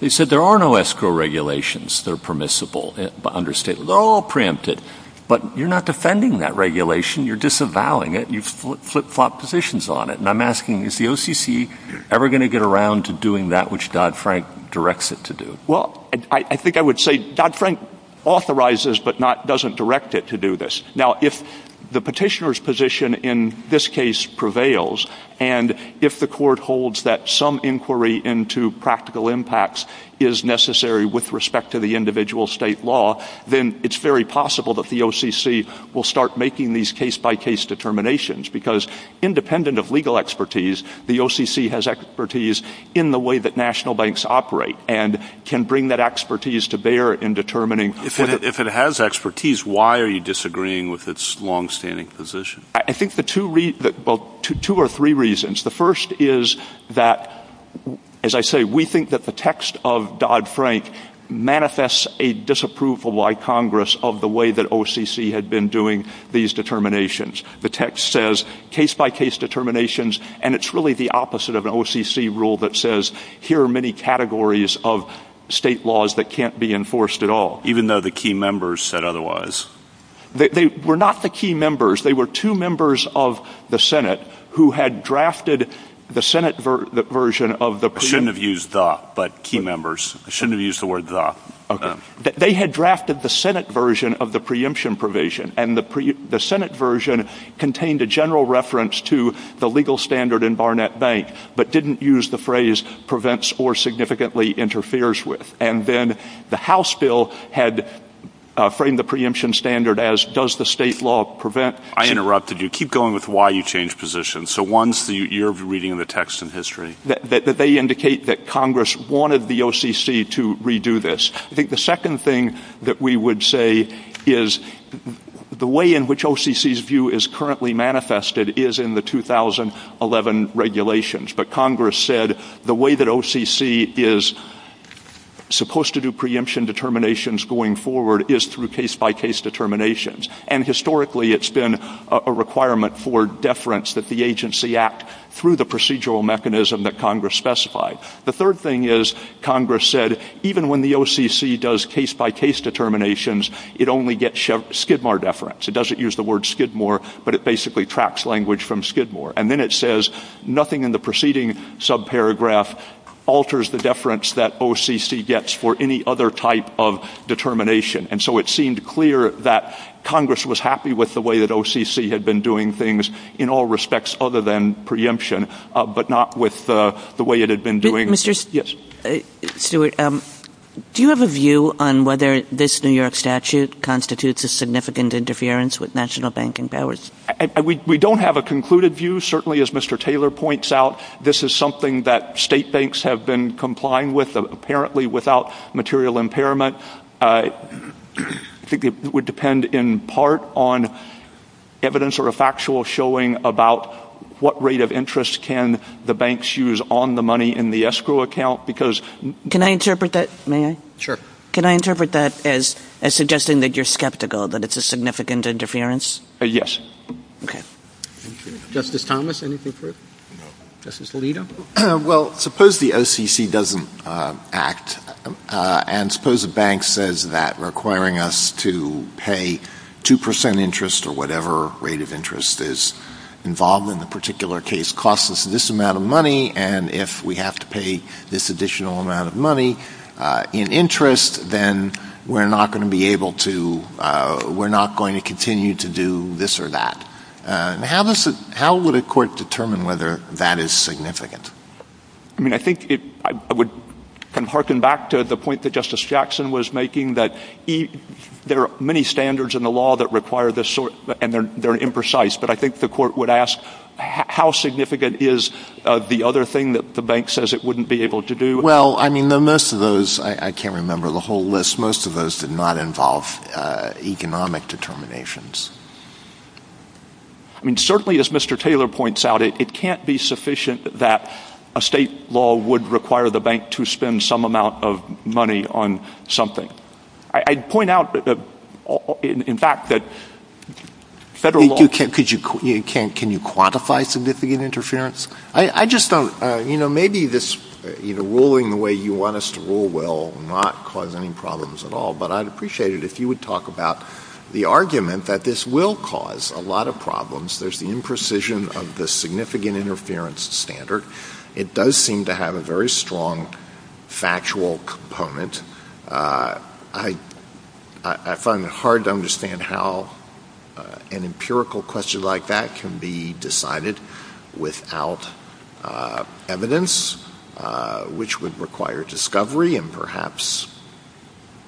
They said there are no escrow regulations that are permissible under state law, they're all preempted. But you're not defending that regulation, you're disavowing it, you've flip-flopped positions on it. And I'm asking, is the OCC ever going to get around to doing that which Dodd-Frank directs it to do? Well, I think I would say Dodd-Frank authorizes, but doesn't direct it to do this. Now, if the petitioner's position in this case prevails, and if the court holds that some inquiry into practical impacts is necessary with respect to the individual state law, then it's very possible that the OCC will start making these case-by-case determinations because independent of legal expertise, the OCC has expertise in the way that national banks operate and can bring that expertise to bear in determining... I think there are two or three reasons. The first is that, as I say, we think that the text of Dodd-Frank manifests a disapproval by Congress of the way that OCC had been doing these determinations. The text says case-by-case determinations, and it's really the opposite of an OCC rule that says here are many categories of state laws that can't be enforced at all. Even though the key members said otherwise. They were not the key members. They were two members of the Senate who had drafted the Senate version of the... I shouldn't have used the, but key members. I shouldn't have used the word the. They had drafted the Senate version of the preemption provision, and the Senate version contained a general reference to the legal standard in Barnett Bank but didn't use the phrase prevents or significantly interferes with. And then the House bill had framed the preemption standard as does the state law prevent... I interrupted you. Keep going with why you changed positions. So one's you're reading the text in history. They indicate that Congress wanted the OCC to redo this. I think the second thing that we would say is the way in which OCC's view is currently manifested is in the 2011 regulations. But Congress said the way that OCC is supposed to do preemption determinations going forward is through case-by-case determinations. And historically, it's been a requirement for deference that the agency act through the procedural mechanism that Congress specified. The third thing is Congress said even when the OCC does case-by-case determinations, it only gets Skidmore deference. It doesn't use the word Skidmore, but it basically tracks language from Skidmore. And then it says nothing in the preceding subparagraph alters the deference that OCC gets for any other type of determination. And so it seemed clear that Congress was happy with the way that OCC had been doing things in all respects other than preemption, but not with the way it had been doing... Mr. Stewart, do you have a view on whether this New York statute constitutes a significant interference with national banking powers? We don't have a concluded view. Certainly, as Mr. Taylor points out, this is something that state banks have been complying with, apparently without material impairment. I think it would depend in part on evidence or a factual showing about what rate of interest can the banks use on the money in the escrow account because... Can I interpret that? May I? Sure. Can I interpret that as suggesting that you're skeptical that it's a significant interference? Yes. Okay. Justice Thomas, anything further? Justice Alito? Well, suppose the OCC doesn't act, and suppose a bank says that, requiring us to pay 2% interest or whatever rate of interest is involved in the particular case, costs us this amount of money, and if we have to pay this additional amount of money in interest, then we're not going to be able to... do this or that. How would a court determine whether that is significant? I mean, I think it... I would hearken back to the point that Justice Jackson was making that there are many standards in the law that require this sort... and they're imprecise, but I think the court would ask how significant is the other thing that the bank says it wouldn't be able to do? Well, I mean, most of those... I can't remember the whole list. Most of those did not involve economic determinations. I mean, certainly, as Mr. Taylor points out, it can't be sufficient that a state law would require the bank to spend some amount of money on something. I'd point out, in fact, that federal law... Could you... Can you quantify significant interference? I just don't... You know, maybe this... ruling the way you want us to rule will not cause any problems at all, but I'd appreciate it if you would talk about the argument that this will cause a lot of problems. There's the imprecision of the significant interference standard. It does seem to have a very strong factual component. I find it hard to understand how an empirical question like that can be decided without evidence, which would require discovery and perhaps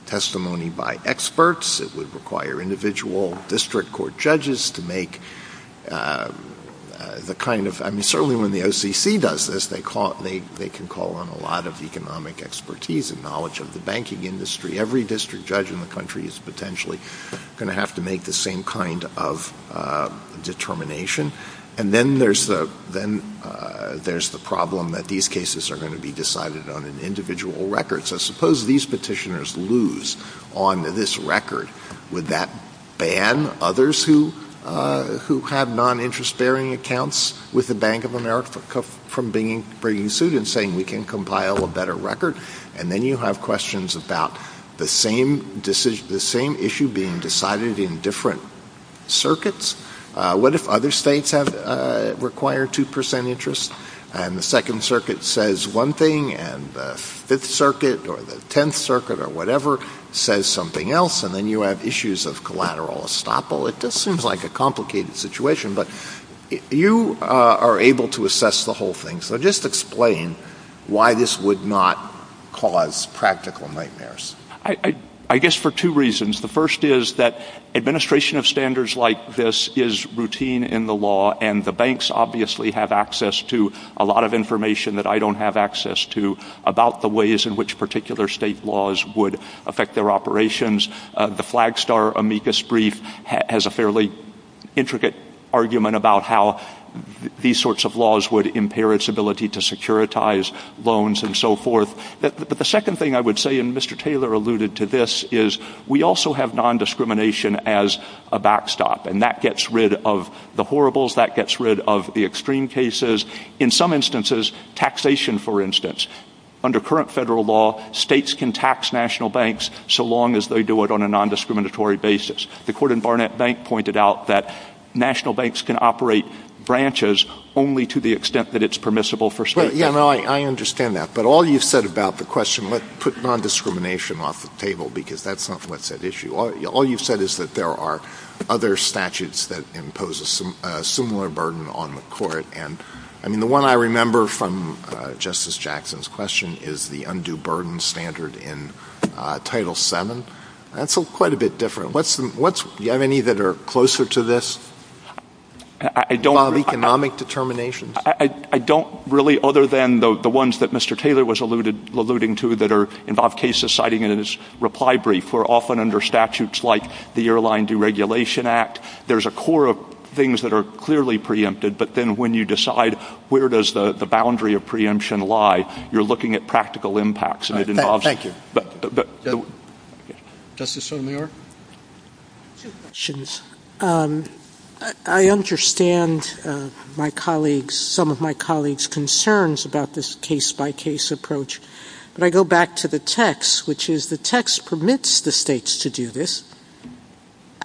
testimony by experts. It would require individual district court judges to make the kind of... I mean, certainly when the OCC does this, they can call on a lot of economic expertise and knowledge of the banking industry. Every district judge in the country is potentially going to have to make the same kind of determination. And then there's the problem that these cases are going to be decided on an individual record. So suppose these petitioners lose on this record. Would that ban others who have non-interest-bearing accounts with the Bank of America from bringing suit and saying we can compile a better record? And then you have questions about the same issue being decided in different circuits. What if other states require 2% interest and the Second Circuit says one thing and the Fifth Circuit or the Tenth Circuit or whatever says something else and then you have issues of collateral estoppel? It just seems like a complicated situation. But you are able to assess the whole thing. So just explain why this would not cause practical nightmares. I guess for two reasons. The first is that administration of standards like this is routine in the law and the banks obviously have access to a lot of information that I don't have access to about the ways in which particular state laws would affect their operations. The Flagstar amicus brief has a fairly intricate argument about how these sorts of laws would impair its ability to securitize loans and so forth. But the second thing I would say, and Mr. Taylor alluded to this, is we also have non-discrimination as a backstop and that gets rid of the horribles, that gets rid of the extreme cases. In some instances, taxation for instance, under current federal law, states can tax national banks so long as they do it on a non-discriminatory basis. The Cord and Barnett Bank pointed out that national banks can operate branches only to the extent that it's permissible for states. I understand that. But all you said about the question, let's put non-discrimination off the table because that's not what's at issue. All you've said is that there are other statutes that impose a similar burden on the court. And the one I remember from Justice Jackson's question is the undue burden standard in Title VII. That's quite a bit different. Do you have any that are closer to this? Economic determinations? I don't really, other than the ones that Mr. Taylor was alluding to that involve cases citing in his reply brief or often under statutes like the Airline Deregulation Act. There's a core of things that are clearly preempted, but then when you decide where does the boundary of preemption lie, you're looking at practical impacts. Thank you. Justice O'Meara? I understand my colleagues, some of my colleagues' concerns about this case-by-case approach. But I go back to the text, which is the text permits the states to do this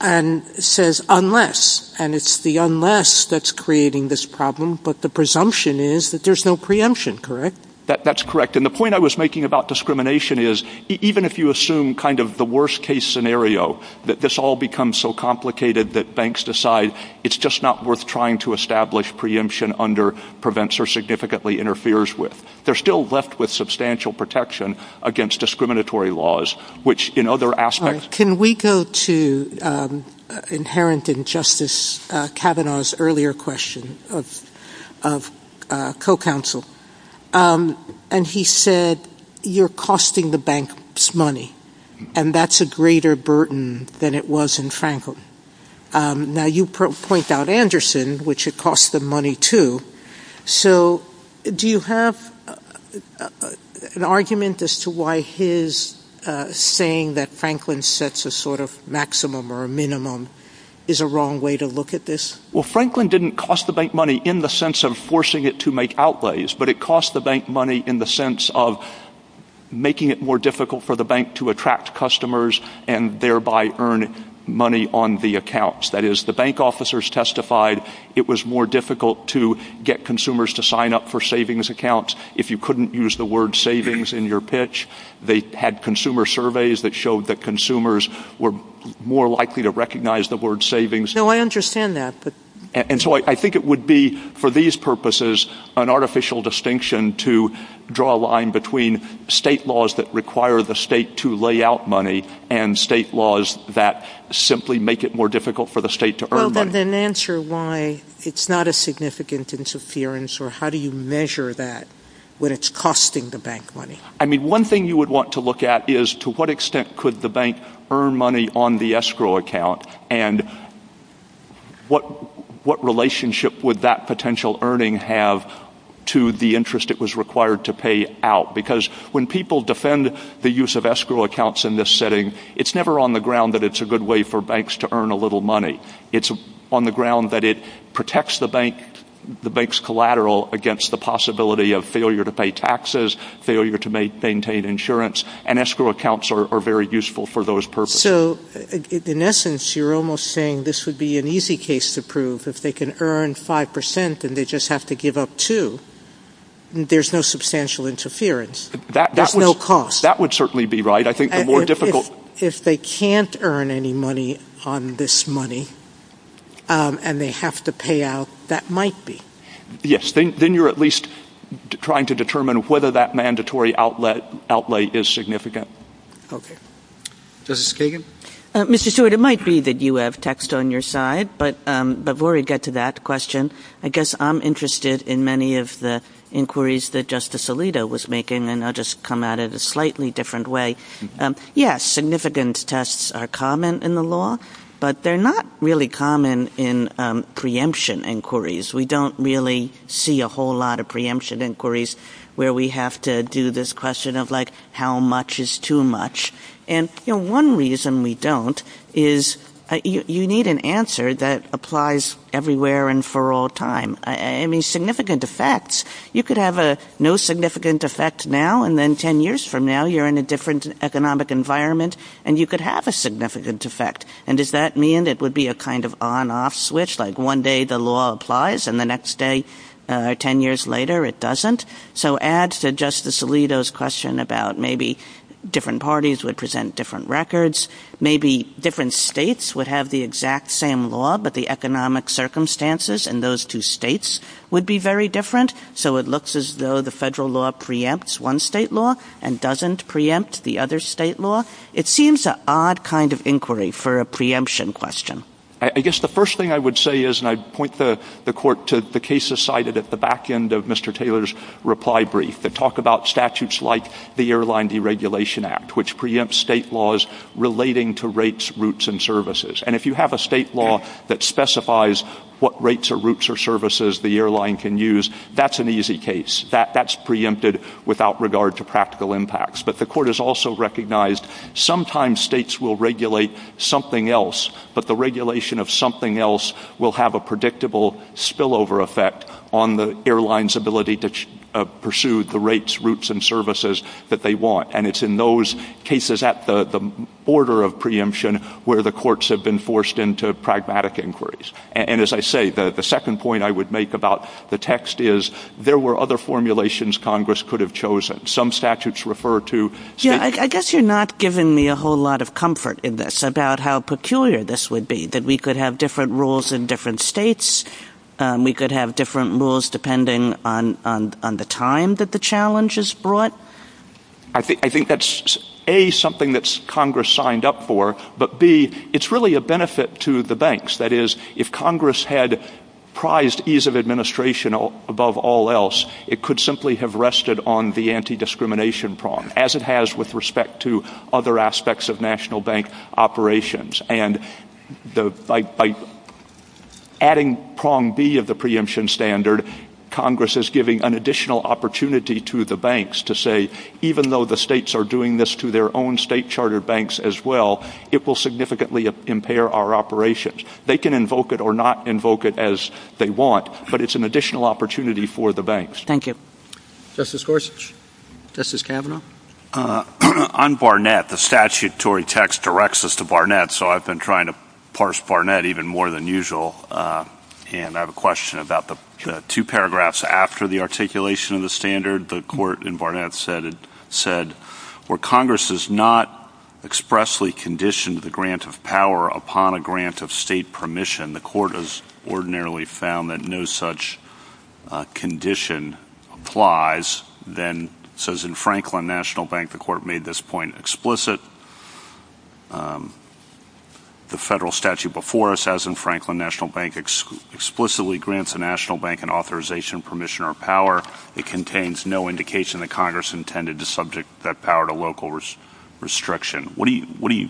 and says unless, and it's the unless that's creating this problem, but the presumption is that there's no preemption, correct? That's correct. And the point I was making about discrimination is even if you assume kind of the worst-case scenario, that this all becomes so complicated that banks decide it's just not worth trying to establish preemption under prevents or significantly interferes with, they're still left with substantial protection against discriminatory laws, which in other aspects- Can we go to inherent in Justice Kavanaugh's earlier question of co-counsel? And he said you're costing the banks money, and that's a greater burden than it was in Franklin. Now you point out Anderson, which it costs them money too. So do you have an argument as to why his saying that Franklin sets a sort of maximum or a minimum is a wrong way to look at this? Well, Franklin didn't cost the bank money in the sense of forcing it to make outlays, but it cost the bank money in the sense of making it more difficult for the bank to attract customers and thereby earn money on the accounts. That is, the bank officers testified it was more difficult to get consumers to sign up for savings accounts if you couldn't use the word savings in your pitch. They had consumer surveys that showed that consumers were more likely to recognize the word savings. No, I understand that. And so I think it would be, for these purposes, an artificial distinction to draw a line between state laws that require the state to lay out money and state laws that simply make it more difficult for the state to earn money. So then answer why it's not a significant interference or how do you measure that when it's costing the bank money? I mean, one thing you would want to look at is to what extent could the bank earn money on the escrow account and what relationship would that potential earning have to the interest it was required to pay out? Because when people defend the use of escrow accounts in this setting, it's never on the ground that it's a good way for banks to earn a little money. It's on the ground that it protects the bank's collateral against the possibility of failure to pay taxes, failure to maintain insurance, and escrow accounts are very useful for those purposes. So, in essence, you're almost saying this would be an easy case to prove. If they can earn 5% and they just have to give up 2%, there's no substantial interference. There's no cost. That would certainly be right. If they can't earn any money on this money and they have to pay out, that might be. Yes. Then you're at least trying to determine whether that mandatory outlay is significant. Okay. Justice Kagan? Mr. Stewart, it might be that you have text on your side, but before we get to that question, I guess I'm interested in many of the inquiries that Justice Alito was making, and I'll just come at it in a slightly different way. Yes, significant tests are common in the law, but they're not really common in preemption inquiries. We don't really see a whole lot of preemption inquiries where we have to do this question of, like, how much is too much? And one reason we don't is you need an answer that applies everywhere and for all time. I mean, significant effects. You could have no significant effect now, and then 10 years from now, you're in a different economic environment and you could have a significant effect. And does that mean it would be a kind of on-off switch, like one day the law applies and the next day, 10 years later, it doesn't? So add to Justice Alito's question about maybe different parties would present different records. Maybe different states would have the exact same law, but the economic circumstances in those two states would be very different, so it looks as though the federal law preempts one state law and doesn't preempt the other state law. It seems an odd kind of inquiry for a preemption question. I guess the first thing I would say is, and I'd point the court to the cases cited at the back end of Mr. Taylor's reply brief that talk about statutes like the Airline Deregulation Act, which preempts state laws relating to rates, routes, and services. And if you have a state law that specifies what rates or routes or services the airline can use, that's an easy case. That's preempted without regard to practical impacts. But the court has also recognized sometimes states will regulate something else, but the regulation of something else will have a predictable spillover effect on the airline's ability to pursue the rates, routes, and services that they want. And it's in those cases at the order of preemption where the courts have been forced into pragmatic inquiries. And as I say, the second point I would make about the text is, there were other formulations Congress could have chosen. Some statutes refer to... Yeah, I guess you're not giving me a whole lot of comfort in this about how peculiar this would be, that we could have different rules in different states, we could have different rules depending on the time that the challenge is brought. I think that's, A, something that Congress signed up for, but, B, it's really a benefit to the banks. That is, if Congress had prized ease of administration above all else, it could simply have rested on the anti-discrimination prong, as it has with respect to other aspects of national bank operations. And by adding prong B of the preemption standard, Congress is giving an additional opportunity to the banks to say, even though the states are doing this to their own state charter banks as well, it will significantly impair our operations. They can invoke it or not invoke it as they want, but it's an additional opportunity for the banks. Thank you. Justice Gorsuch. Justice Kavanaugh. On Barnett, the statutory text directs us to Barnett, so I've been trying to parse Barnett even more than usual, and I have a question about the two paragraphs after the articulation of the standard, the court in Barnett said, where Congress has not expressly conditioned the grant of power upon a grant of state permission, the court has ordinarily found that no such condition applies. Then it says in Franklin National Bank, the court made this point explicit. The federal statute before us, as in Franklin National Bank, explicitly grants a national bank an authorization, permission, or power. It contains no indication that Congress intended to subject that power to local restriction. How do you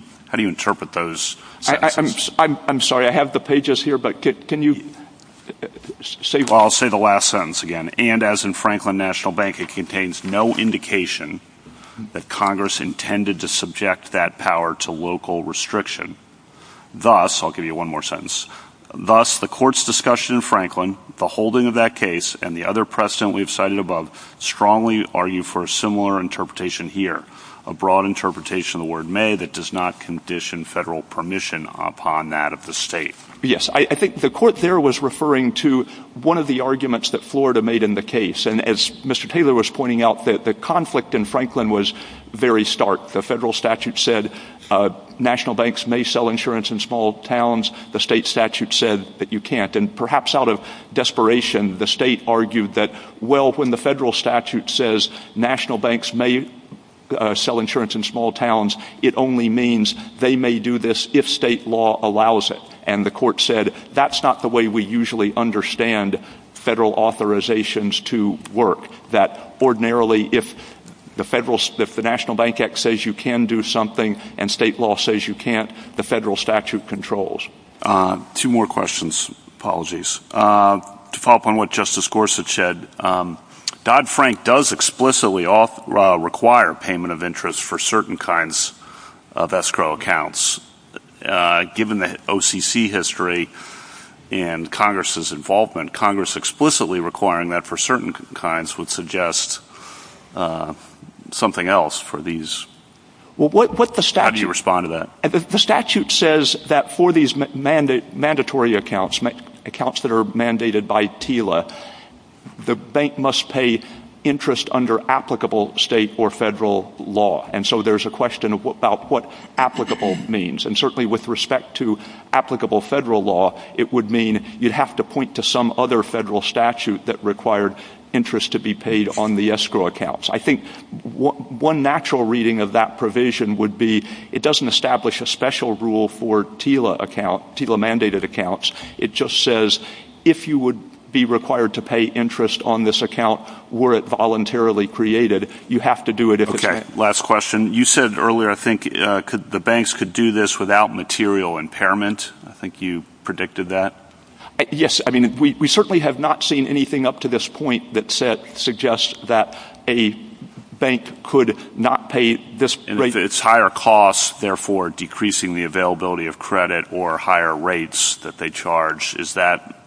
interpret those? I'm sorry, I have the pages here, but can you say that? Well, I'll say the last sentence again. And as in Franklin National Bank, it contains no indication that Congress intended to subject that power to local restriction. Thus, I'll give you one more sentence. Thus, the court's discussion in Franklin, the holding of that case, and the other precedent we've cited above, strongly argue for a similar interpretation here, a broad interpretation of the word may that does not condition federal permission upon that of the state. Yes, I think the court there was referring to one of the arguments that Florida made in the case. And as Mr. Taylor was pointing out, the conflict in Franklin was very stark. The federal statute said national banks may sell insurance in small towns. The state statute said that you can't. And perhaps out of desperation, the state argued that, well, when the federal statute says national banks may sell insurance in small towns, it only means they may do this if state law allows it. And the court said that's not the way we usually understand federal authorizations to work, that ordinarily if the National Bank Act says you can do something and state law says you can't, the federal statute controls. Two more questions. Apologies. To follow up on what Justice Gorsuch said, Dodd-Frank does explicitly require payment of interest for certain kinds of escrow accounts. Given the OCC history and Congress's involvement, Congress explicitly requiring that for certain kinds would suggest something else for these. How do you respond to that? The statute says that for these mandatory accounts, accounts that are mandated by TILA, the bank must pay interest under applicable state or federal law. And so there's a question about what applicable means. And certainly with respect to applicable federal law, it would mean you'd have to point to some other federal statute that required interest to be paid on the escrow accounts. I think one natural reading of that provision would be it doesn't establish a special rule for TILA account, TILA-mandated accounts. It just says if you would be required to pay interest on this account were it voluntarily created, you have to do it at this time. Last question. You said earlier, I think, the banks could do this without material impairment. I think you predicted that. Yes. I mean, we certainly have not seen anything up to this point that suggests that a bank could not pay this rate. It's higher cost, therefore, decreasing the availability of credit or higher rates that they charge. Is that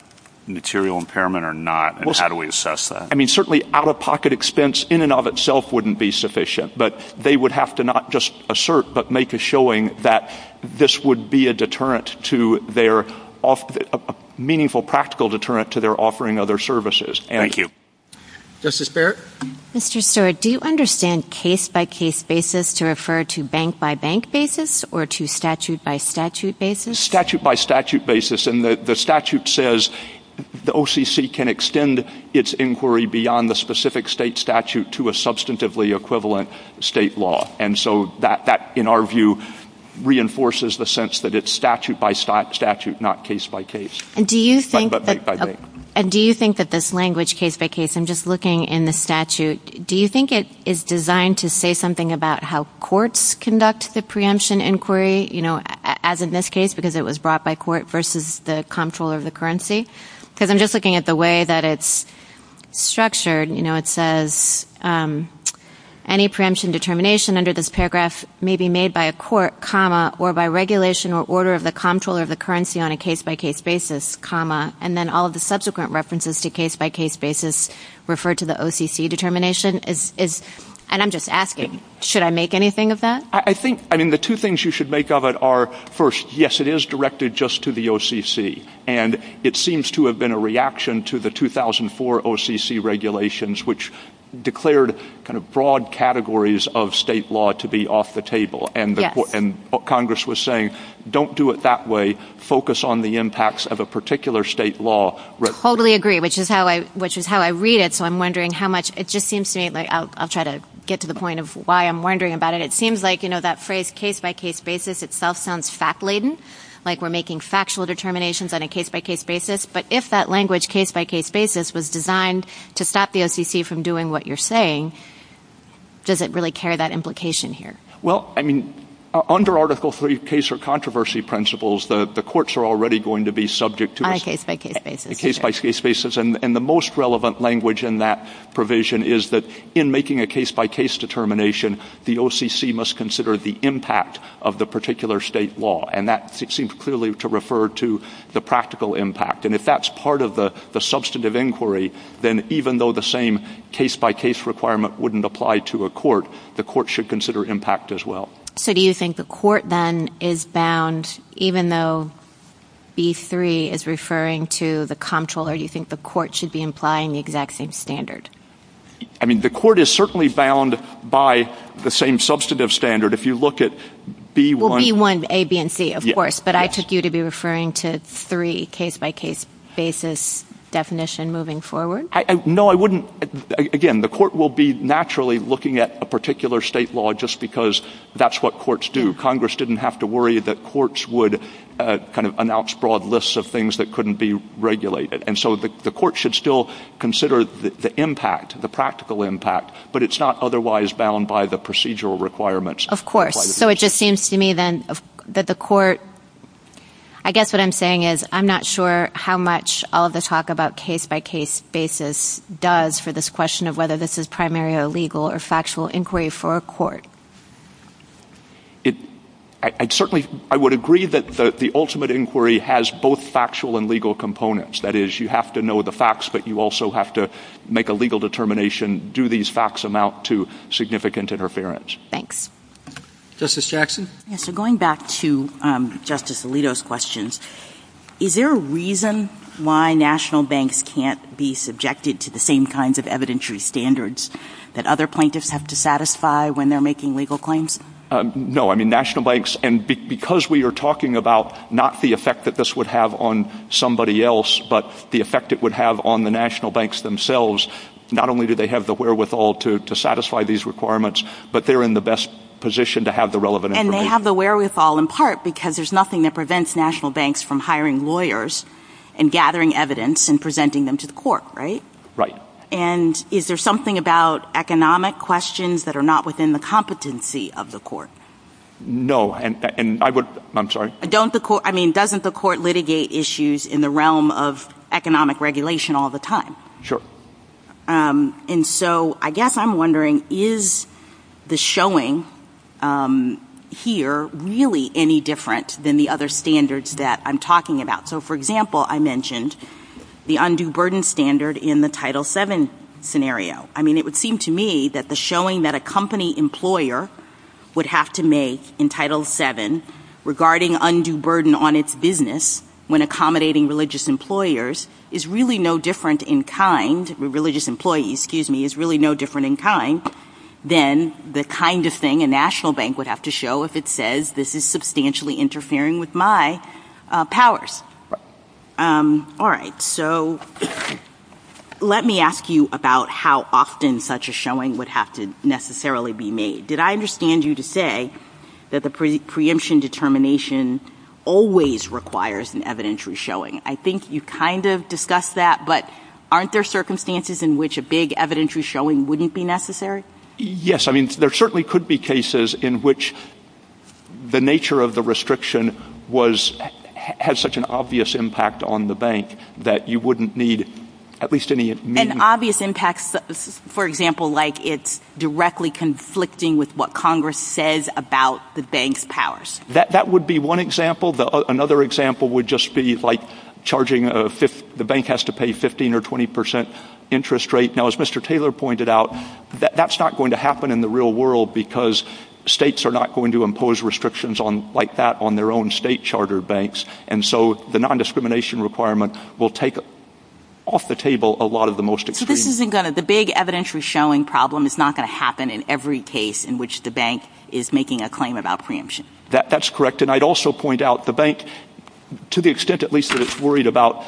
material impairment or not, and how do we assess that? I mean, certainly out-of-pocket expense in and of itself wouldn't be sufficient. But they would have to not just assert but make a showing that this would be a deterrent to their offer, a meaningful practical deterrent to their offering other services. Thank you. Justice Barrett. Mr. Stewart, do you understand case-by-case basis to refer to bank-by-bank basis or to statute-by-statute basis? Statute-by-statute basis. And the statute says the OCC can extend its inquiry beyond the specific state statute to a substantively equivalent state law. And so that, in our view, reinforces the sense that it's statute-by-statute, not case-by-case, but bank-by-bank. And do you think that this language, case-by-case, I'm just looking in the statute, do you think it is designed to say something about how courts conduct the preemption inquiry, as in this case because it was brought by court versus the comptroller of the currency? Because I'm just looking at the way that it's structured. It says any preemption determination under this paragraph may be made by a court, comma, or by regulation or order of the comptroller of the currency on a case-by-case basis, comma, and then all of the subsequent references to case-by-case basis refer to the OCC determination. And I'm just asking, should I make anything of that? I think, I mean, the two things you should make of it are, first, yes, it is directed just to the OCC, and it seems to have been a reaction to the 2004 OCC regulations, which declared kind of broad categories of state law to be off the table. And Congress was saying, don't do it that way. Focus on the impacts of a particular state law. Totally agree, which is how I read it. So I'm wondering how much it just seems to me. I'll try to get to the point of why I'm wondering about it. It seems like, you know, that phrase case-by-case basis itself sounds fact-laden, like we're making factual determinations on a case-by-case basis. But if that language, case-by-case basis, was designed to stop the OCC from doing what you're saying, does it really carry that implication here? Well, I mean, under Article III case or controversy principles, the courts are already going to be subject to a case-by-case basis. And the most relevant language in that provision is that in making a case-by-case determination, the OCC must consider the impact of the particular state law. And that seems clearly to refer to the practical impact. And if that's part of the substantive inquiry, then even though the same case-by-case requirement wouldn't apply to a court, the court should consider impact as well. So do you think the court then is bound, even though B-3 is referring to the comptroller, do you think the court should be implying the exact same standard? I mean, the court is certainly bound by the same substantive standard. If you look at B-1... Well, B-1, A, B, and C, of course. But I took you to be referring to three case-by-case basis definitions moving forward. No, I wouldn't. Again, the court will be naturally looking at a particular state law just because that's what courts do. Congress didn't have to worry that courts would kind of announce broad lists of things that couldn't be regulated. And so the court should still consider the impact, the practical impact, but it's not otherwise bound by the procedural requirements. Of course. So it just seems to me then that the court... I guess what I'm saying is I'm not sure how much all the talk about case-by-case basis does for this question of whether this is primary or legal or factual inquiry for a court. I certainly would agree that the ultimate inquiry has both factual and legal components. That is, you have to know the facts, but you also have to make a legal determination, do these facts amount to significant interference? Thanks. Justice Jackson? So going back to Justice Alito's question, is there a reason why national banks can't be subjected to the same kinds of evidentiary standards that other plaintiffs have to satisfy when they're making legal claims? No. I mean, national banks... And because we are talking about not the effect that this would have on somebody else, but the effect it would have on the national banks themselves, not only do they have the wherewithal to satisfy these requirements, but they're in the best position to have the relevant information. And they have the wherewithal in part because there's nothing that prevents national banks from hiring lawyers and gathering evidence and presenting them to the court, right? Right. And is there something about economic questions that are not within the competency of the court? No, and I would... I'm sorry? I mean, doesn't the court litigate issues in the realm of economic regulation all the time? Sure. And so I guess I'm wondering, is the showing here really any different than the other standards that I'm talking about? So, for example, I mentioned the undue burden standard in the Title VII scenario. I mean, it would seem to me that the showing that a company employer would have to make in Title VII regarding undue burden on its business when accommodating religious employers is really no different in kind... Religious employees, excuse me, is really no different in kind than the kind of thing a national bank would have to show if it says this is substantially interfering with my powers. All right. So let me ask you about how often such a showing would have to necessarily be made. Did I understand you to say that the preemption determination always requires an evidentiary showing? I think you kind of discussed that, but aren't there circumstances in which a big evidentiary showing wouldn't be necessary? Yes. I mean, there certainly could be cases in which the nature of the restriction has such an obvious impact on the bank that you wouldn't need at least any... An obvious impact, for example, like it's directly conflicting with what Congress says about the bank's powers. That would be one example. Another example would just be like charging... The bank has to pay 15% or 20% interest rate. Now, as Mr. Taylor pointed out, that's not going to happen in the real world because states are not going to impose restrictions like that on their own state charter banks, and so the nondiscrimination requirement will take off the table a lot of the most extreme... So this isn't going to... The big evidentiary showing problem is not going to happen in every case in which the bank is making a claim about preemption. That's correct. And I'd also point out the bank, to the extent, at least, that it's worried about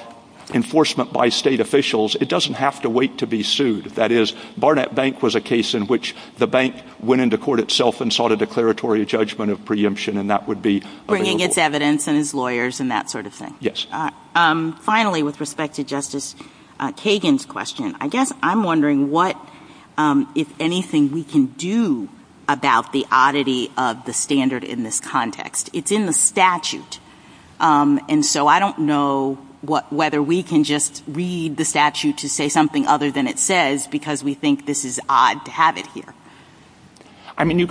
enforcement by state officials, it doesn't have to wait to be sued. That is, Barnett Bank was a case in which the bank went into court itself and sought a declaratory judgment of preemption, and that would be available. Bringing its evidence and its lawyers and that sort of thing. Yes. Finally, with respect to Justice Kagan's question, I guess I'm wondering what, if anything, we can do about the oddity of the standard in this context. It's in the statute. And so I don't know whether we can just read the statute to say something other than it says because we think this is odd to have it here. I mean,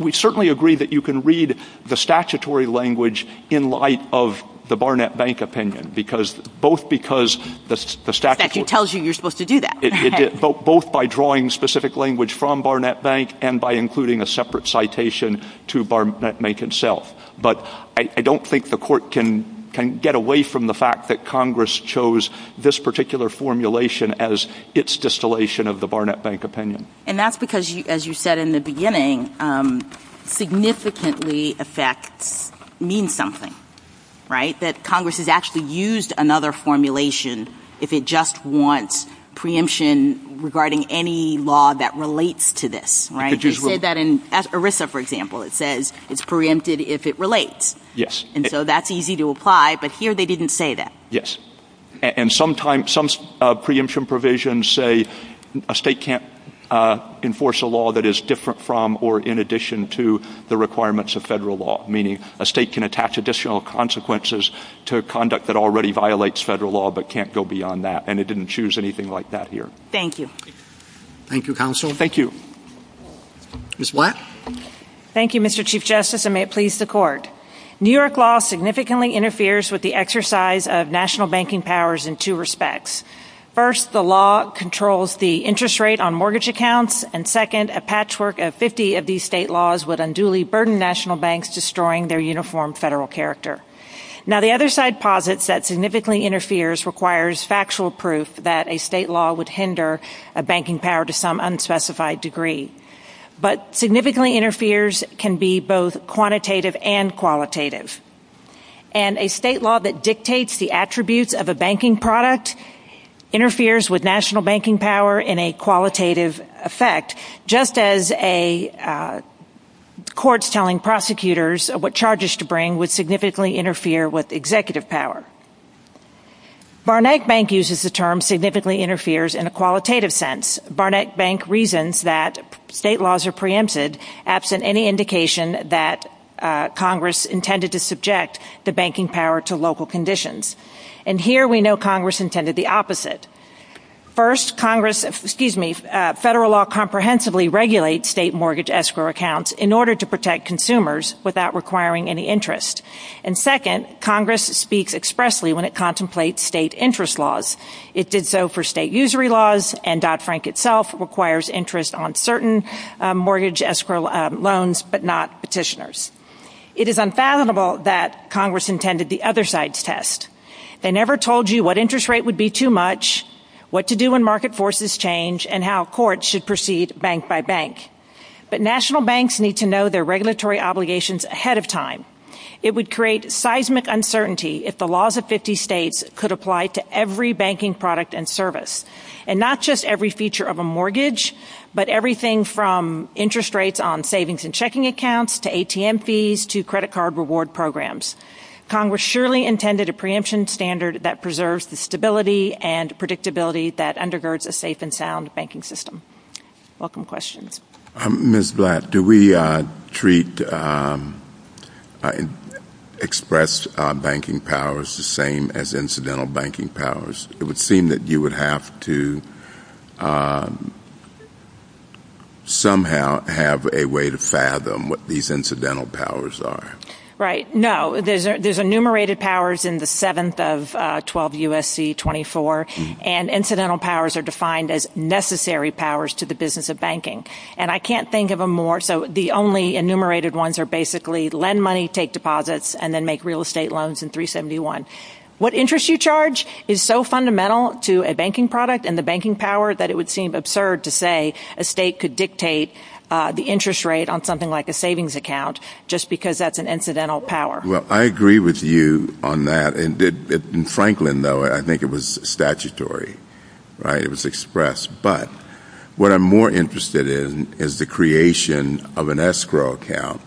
we certainly agree that you can read the statutory language in light of the Barnett Bank opinion, because both because the statute... That tells you you're supposed to do that. Both by drawing specific language from Barnett Bank and by including a separate citation to Barnett Bank itself. But I don't think the court can get away from the fact that Congress chose this particular formulation as its distillation of the Barnett Bank opinion. And that's because, as you said in the beginning, significantly effect means something, right? That Congress has actually used another formulation if it just wants preemption regarding any law that relates to this, right? They say that in ERISA, for example. It says it's preempted if it relates. Yes. And so that's easy to apply, but here they didn't say that. Yes. And some preemption provisions say a state can't enforce a law that is different from or in addition to the requirements of federal law, meaning a state can attach additional consequences to a conduct that already violates federal law but can't go beyond that. And it didn't choose anything like that here. Thank you. Thank you, Counsel. Thank you. Ms. Blatt? Thank you, Mr. Chief Justice, and may it please the Court. New York law significantly interferes with the exercise of national banking powers in two respects. First, the law controls the interest rate on mortgage accounts, and second, a patchwork of 50 of these state laws would unduly burden national banks, destroying their uniform federal character. Now, the other side posits that significantly interferes requires factual proof that a state law would hinder a banking power to some unspecified degree. But significantly interferes can be both quantitative and qualitative. And a state law that dictates the attributes of a banking product interferes with national banking power in a qualitative effect, just as courts telling prosecutors what charges to bring would significantly interfere with executive power. Barnett Bank uses the term significantly interferes in a qualitative sense. Barnett Bank reasons that state laws are preempted absent any indication that Congress intended to subject the banking power to local conditions. And here we know Congress intended the opposite. First, Congress, excuse me, federal law comprehensively regulates state mortgage escrow accounts in order to protect consumers without requiring any interest. And second, Congress speaks expressly when it contemplates state interest laws. It did so for state usury laws, and Dodd-Frank itself requires interest on certain mortgage escrow loans but not petitioners. It is unfathomable that Congress intended the other side's test. They never told you what interest rate would be too much, what to do when market forces change, and how courts should proceed bank by bank. But national banks need to know their regulatory obligations ahead of time. It would create seismic uncertainty if the laws of 50 states could apply to every banking product and service, and not just every feature of a mortgage but everything from interest rates on savings and checking accounts to ATM fees to credit card reward programs. Congress surely intended a preemption standard that preserves the stability and predictability that undergirds a safe and sound banking system. Welcome questions. Ms. Blatt, do we treat express banking powers the same as incidental banking powers? It would seem that you would have to somehow have a way to fathom what these incidental powers are. Right. No. There's enumerated powers in the 7th of 12 U.S.C. 24, and incidental powers are defined as necessary powers to the business of banking. And I can't think of them more, so the only enumerated ones are basically lend money, take deposits, and then make real estate loans in 371. What interest you charge is so fundamental to a banking product and the banking power that it would seem absurd to say a state could dictate the interest rate on something like a savings account just because that's an incidental power. Well, I agree with you on that. In Franklin, though, I think it was statutory. It was expressed. But what I'm more interested in is the creation of an escrow account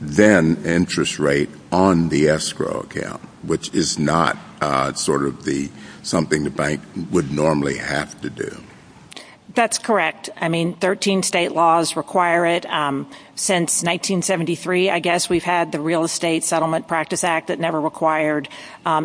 than interest rate on the escrow account, which is not sort of something the bank would normally have to do. That's correct. I mean, 13 state laws require it. Since 1973, I guess, we've had the Real Estate Settlement Practice Act that never required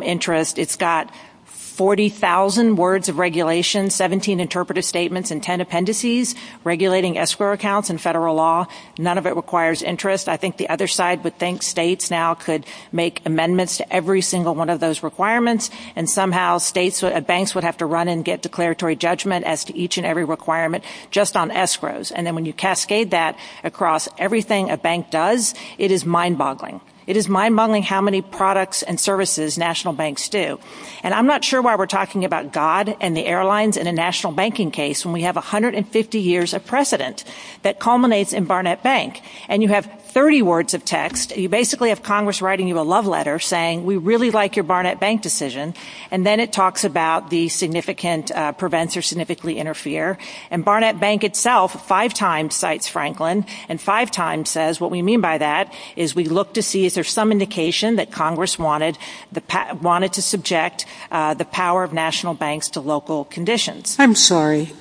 interest. It's got 40,000 words of regulation, 17 interpretive statements, and 10 appendices regulating escrow accounts in federal law. None of it requires interest. I think the other side would think states now could make amendments to every single one of those requirements, and somehow banks would have to run and get declaratory judgment as to each and every requirement just on escrows. And then when you cascade that across everything a bank does, it is mind-boggling. It is mind-boggling how many products and services national banks do. And I'm not sure why we're talking about God and the airlines in a national banking case when we have 150 years of precedent that culminates in Barnett Bank. And you have 30 words of text. You basically have Congress writing you a love letter saying, we really like your Barnett Bank decision, and then it talks about the significant prevents or significantly interfere. And Barnett Bank itself five times cites Franklin, and five times says what we mean by that is we look to see if there's some indication that Congress wanted to subject the power of national banks to local conditions. I'm sorry.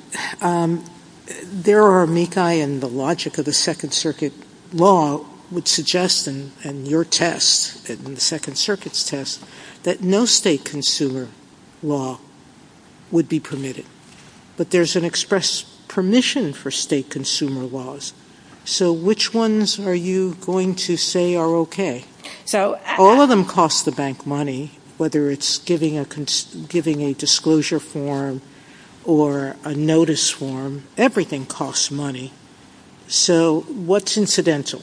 There are, Mekhi, in the logic of the Second Circuit law, would suggest in your test, in the Second Circuit's test, that no state consumer law would be permitted. But there's an express permission for state consumer laws. So which ones are you going to say are okay? All of them cost the bank money, whether it's giving a disclosure form or a notice form, everything costs money. So what's incidental?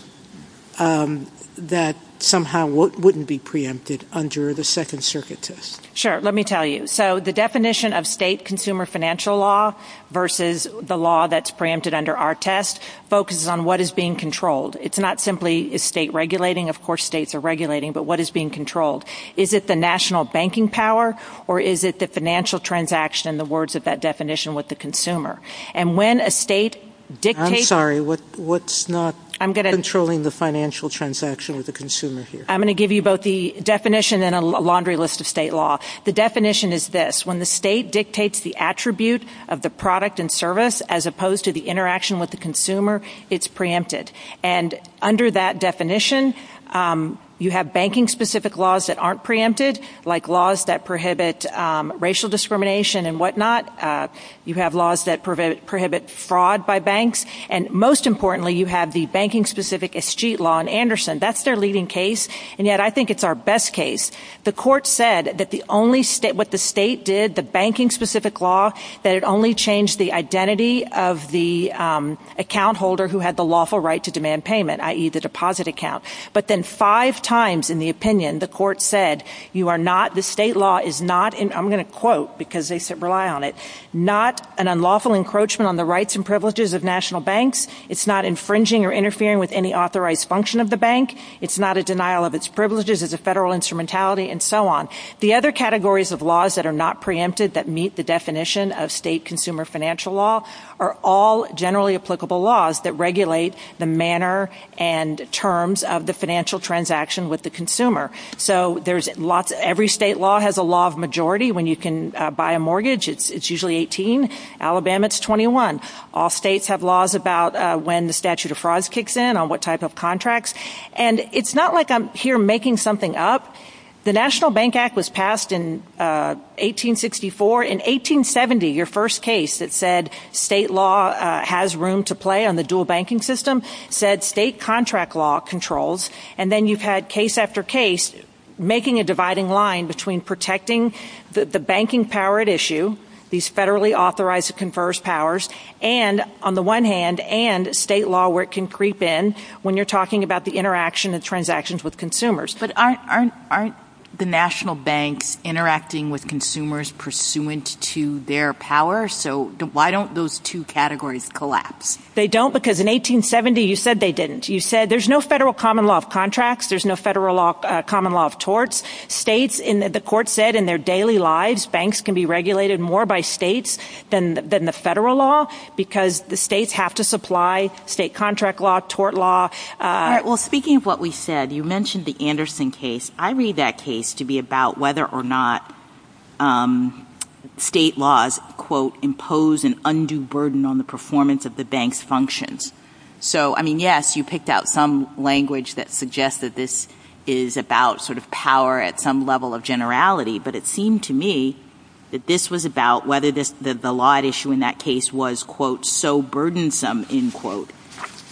That somehow wouldn't be preempted under the Second Circuit test. Sure. Let me tell you. So the definition of state consumer financial law versus the law that's preempted under our test focuses on what is being controlled. It's not simply state regulating. Of course states are regulating, but what is being controlled? Is it the national banking power, or is it the financial transaction And when a state dictates... I'm sorry. What's not controlling the financial transaction of the consumer here? I'm going to give you both the definition and a laundry list of state law. The definition is this. When the state dictates the attribute of the product and service, as opposed to the interaction with the consumer, it's preempted. And under that definition, you have banking-specific laws that aren't preempted, like laws that prohibit racial discrimination and whatnot. You have laws that prohibit fraud by banks. And most importantly, you have the banking-specific escheat law in Anderson. That's their leading case, and yet I think it's our best case. The court said that what the state did, the banking-specific law, that it only changed the identity of the account holder who had the lawful right to demand payment, i.e., the deposit account. But then five times in the opinion, the court said you are not, the state law is not, and I'm going to quote because they rely on it, not an unlawful encroachment on the rights and privileges of national banks. It's not infringing or interfering with any author rights function of the bank. It's not a denial of its privileges as a federal instrumentality, and so on. The other categories of laws that are not preempted that meet the definition of state consumer financial law are all generally applicable laws that regulate the manner and terms of the financial transaction with the consumer. So every state law has a law of majority. When you can buy a mortgage, it's usually 18. Alabama, it's 21. All states have laws about when the statute of frauds kicks in, on what type of contracts, and it's not like I'm here making something up. The National Bank Act was passed in 1864. In 1870, your first case that said state law has room to play on the dual banking system said state contract law controls, and then you've had case after case making a dividing line between protecting the banking power at issue, these federally authorized confers powers, and on the one hand, and state law where it can creep in when you're talking about the interaction of transactions with consumers. But aren't the national banks interacting with consumers pursuant to their power? So why don't those two categories collapse? They don't because in 1870, you said they didn't. You said there's no federal common law of contracts. There's no federal common law of torts. The court said in their daily lives, banks can be regulated more by states than the federal law because the states have to supply state contract law, tort law. Well, speaking of what we said, you mentioned the Anderson case. I read that case to be about whether or not state laws, quote, impose an undue burden on the performance of the bank's functions. So, I mean, yes, you picked out some language that suggests that this is about sort of power at some level of generality, but it seemed to me that this was about whether the law at issue in that case was, quote, so burdensome, end quote,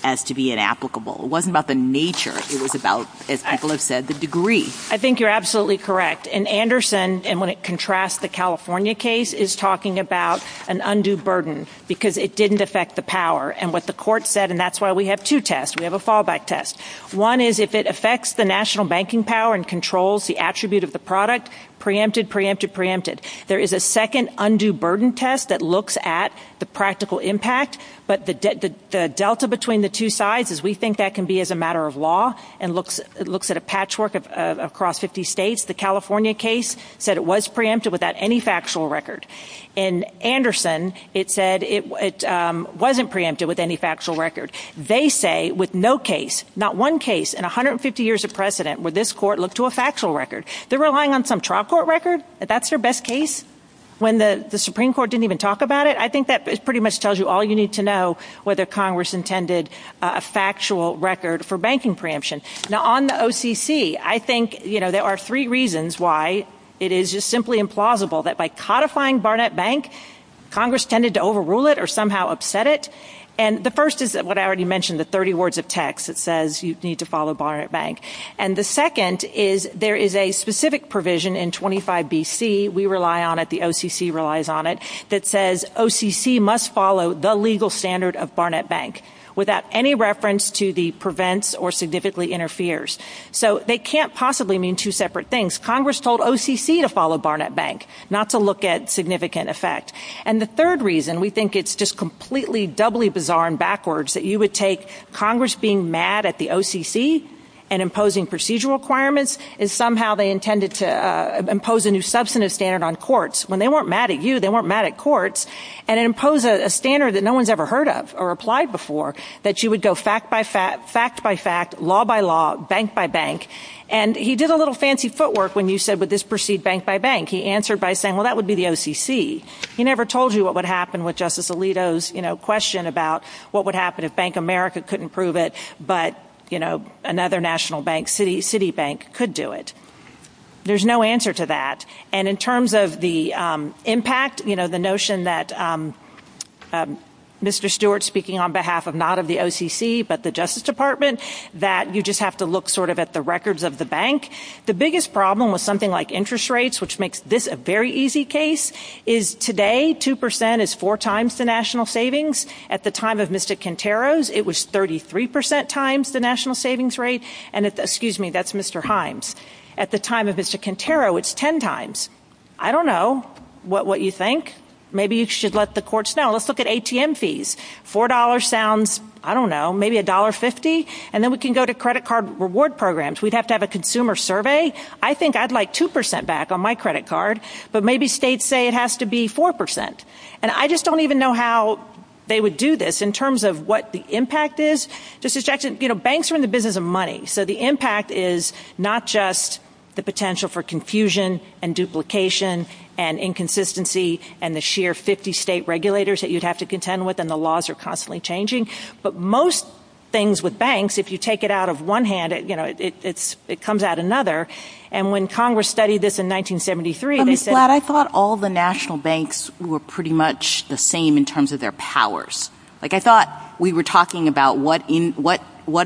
as to be inapplicable. It wasn't about the nature. It was about, as Angela said, the degree. I think you're absolutely correct. And Anderson, and when it contrasts the California case, is talking about an undue burden because it didn't affect the power. And what the court said, and that's why we have two tests. We have a fallback test. One is if it affects the national banking power and controls the attribute of the product, preempted, preempted, preempted. There is a second undue burden test that looks at the practical impact, but the delta between the two sides is we think that can be as a matter of law and looks at a patchwork across 50 states. The California case said it was preempted without any factual record. In Anderson, it said it wasn't preempted with any factual record. They say with no case, not one case in 150 years of precedent, would this court look to a factual record? They're relying on some trial court record? That's their best case? When the Supreme Court didn't even talk about it? I think that pretty much tells you all you need to know whether Congress intended a factual record for banking preemption. Now, on the OCC, I think, you know, there are three reasons why it is just simply implausible that by codifying Barnett Bank, Congress tended to overrule it or somehow upset it. And the first is what I already mentioned, the 30 words of text that says you need to follow Barnett Bank. And the second is there is a specific provision in 25 BC, we rely on it, the OCC relies on it, that says OCC must follow the legal standard of Barnett Bank without any reference to the prevents or significantly interferes. So they can't possibly mean two separate things. Congress told OCC to follow Barnett Bank. Not to look at significant effect. And the third reason we think it's just completely doubly bizarre and backwards that you would take Congress being mad at the OCC and imposing procedural requirements and somehow they intended to impose a new substantive standard on courts. When they weren't mad at you, they weren't mad at courts. And impose a standard that no one's ever heard of or applied before that you would go fact by fact, fact by fact, law by law, bank by bank. And he did a little fancy footwork when you said, well, would this proceed bank by bank? He answered by saying, well, that would be the OCC. He never told you what would happen with Justice Alito's question about what would happen if Bank of America couldn't prove it but another national bank, Citibank, could do it. There's no answer to that. And in terms of the impact, the notion that Mr. Stewart speaking on behalf not of the OCC but the Justice Department, that you just have to look sort of at the records of the bank. The biggest problem with something like interest rates, which makes this a very easy case, is today 2% is four times the national savings. At the time of Mr. Quintero's, it was 33% times the national savings rate. And, excuse me, that's Mr. Himes. At the time of Mr. Quintero, it's ten times. I don't know what you think. Maybe you should let the courts know. Let's look at ATM fees. $4 sounds, I don't know, maybe $1.50. And then we can go to credit card reward programs. We'd have to have a consumer survey. I think I'd like 2% back on my credit card, but maybe states say it has to be 4%. And I just don't even know how they would do this in terms of what the impact is. Banks are in the business of money, so the impact is not just the potential for confusion and duplication and inconsistency and the sheer 50 state regulators that you'd have to contend with and the laws are constantly changing. But most things with banks, if you take it out of one hand, it comes out another. And when Congress studied this in 1973, they said— I thought all the national banks were pretty much the same in terms of their powers. Like I thought we were talking about what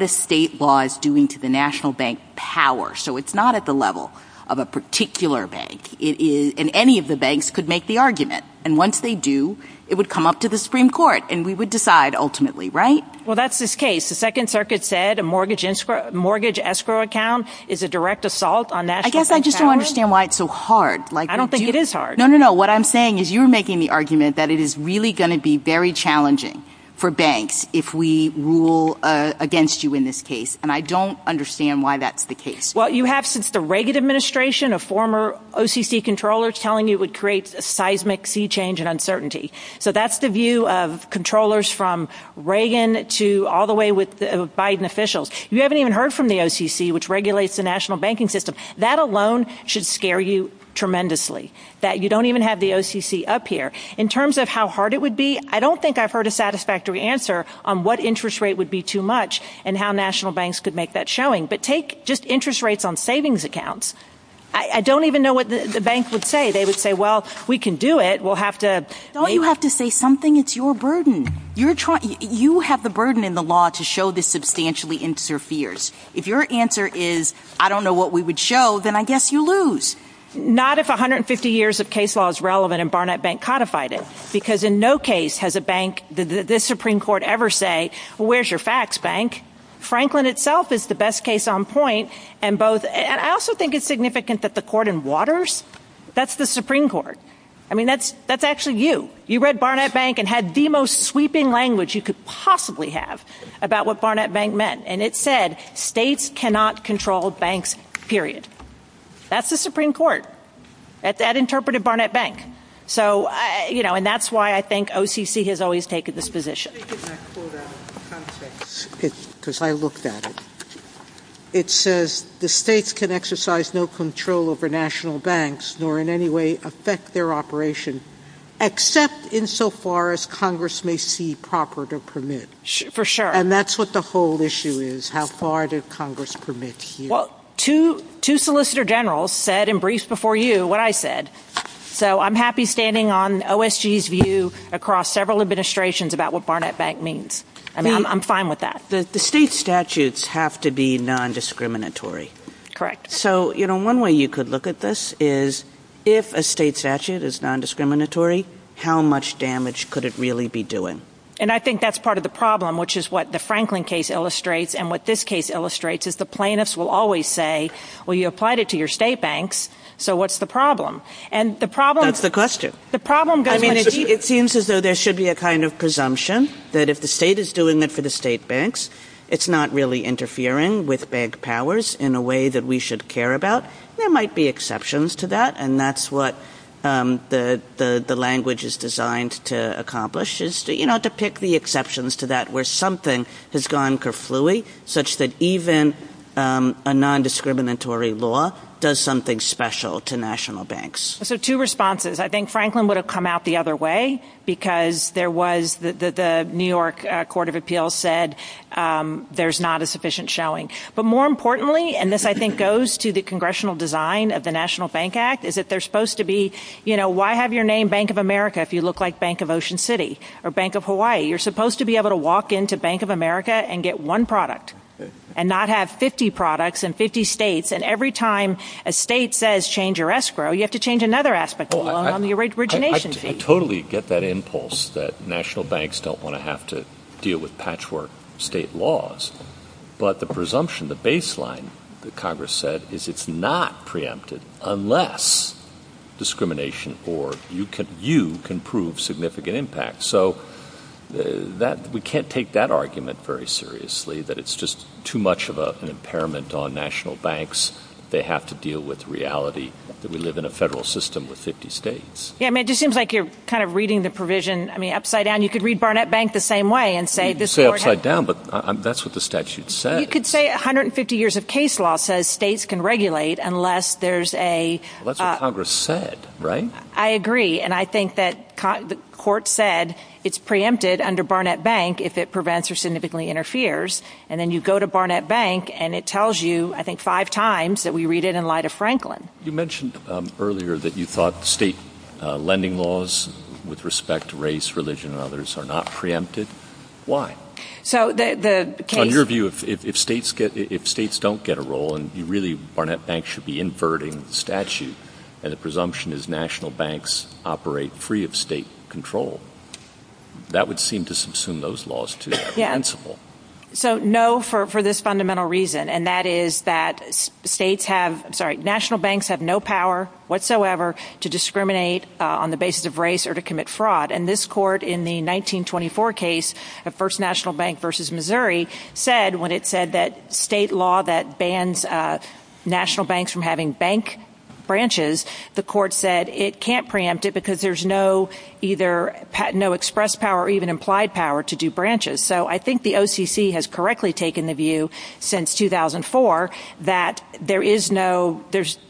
a state law is doing to the national bank power. So it's not at the level of a particular bank. And any of the banks could make the argument. And once they do, it would come up to the Supreme Court, and we would decide ultimately, right? Well, that's the case. The Second Circuit said a mortgage escrow account is a direct assault on national bank power. I guess I just don't understand why it's so hard. I don't think it is hard. No, no, no. What I'm saying is you're making the argument that it is really going to be very challenging for banks if we rule against you in this case. And I don't understand why that's the case. Well, you have since the Reagan administration a former OCC controller telling you it would create seismic sea change and uncertainty. So that's the view of controllers from Reagan to all the way with Biden officials. You haven't even heard from the OCC, which regulates the national banking system. That alone should scare you tremendously, that you don't even have the OCC up here. In terms of how hard it would be, I don't think I've heard a satisfactory answer on what interest rate would be too much and how national banks could make that showing. But take just interest rates on savings accounts. I don't even know what the banks would say. They would say, well, we can do it. Don't you have to say something? It's your burden. You have the burden in the law to show this substantially interferes. If your answer is, I don't know what we would show, then I guess you lose. Not if 150 years of case law is relevant and Barnett Bank codified it, because in no case has a bank, the Supreme Court ever say, well, where's your facts, bank? Franklin itself is the best case on point. And I also think it's significant that the court in Waters, that's the Supreme Court. I mean, that's actually you. You read Barnett Bank and had the most sweeping language you could possibly have about what Barnett Bank meant. And it said states cannot control banks, period. That's the Supreme Court. That interpreted Barnett Bank. So, you know, and that's why I think OCC has always taken this position. Because I looked at it. It says the states can exercise no control over national banks, nor in any way affect their operation, except insofar as Congress may see proper to permit. For sure. And that's what the whole issue is. How far did Congress permit here? Well, two solicitor generals said in briefs before you what I said. So I'm happy standing on OSG's view across several administrations about what Barnett Bank means. I'm fine with that. The state statutes have to be nondiscriminatory. Correct. So, you know, one way you could look at this is if a state statute is nondiscriminatory, how much damage could it really be doing? And I think that's part of the problem, which is what the Franklin case illustrates and what this case illustrates is the plaintiffs will always say, well, you applied it to your state banks, so what's the problem? That's the question. I mean, it seems as though there should be a kind of presumption that if the state is doing it for the state banks, it's not really interfering with bank powers in a way that we should care about. There might be exceptions to that, and that's what the language is designed to accomplish, is, you know, to pick the exceptions to that where something has gone kerfooey, such that even a nondiscriminatory law does something special to national banks. So two responses. I think Franklin would have come out the other way because there was the New York Court of Appeals said there's not a sufficient showing. But more importantly, and this I think goes to the congressional design of the National Bank Act, is that they're supposed to be, you know, why have your name Bank of America if you look like Bank of Ocean City or Bank of Hawaii? You're supposed to be able to walk into Bank of America and get one product and not have 50 products in 50 states, and every time a state says change your escrow, you have to change another aspect of your origination. I totally get that impulse that national banks don't want to have to deal with patchwork state laws, but the presumption, the baseline that Congress said is it's not preempted unless discrimination or you can prove significant impact. So we can't take that argument very seriously, that it's just too much of an impairment on national banks. They have to deal with reality that we live in a federal system with 50 states. Yeah, I mean, it just seems like you're kind of reading the provision, I mean, upside down. You could read Barnett Bank the same way and say this court has... You could say upside down, but that's what the statute said. You could say 150 years of case law says states can regulate unless there's a... Well, that's what Congress said, right? I agree, and I think that the court said it's preempted under Barnett Bank if it prevents or significantly interferes, and then you go to Barnett Bank and it tells you, I think, five times that we read it in light of Franklin. You mentioned earlier that you thought state lending laws with respect to race, religion, and others are not preempted. Why? On your view, if states don't get a role and you really... Barnett Bank should be inverting the statute and the presumption is national banks operate free of state control. That would seem to subsume those laws, too. So, no, for this fundamental reason, and that is that states have... Sorry, national banks have no power whatsoever to discriminate on the basis of race or to commit fraud, and this court in the 1924 case of First National Bank v. Missouri said, when it said that state law that bans national banks from having bank branches, the court said it can't preempt it because there's no either... So I think the OTC has correctly taken the view since 2004 that there is no...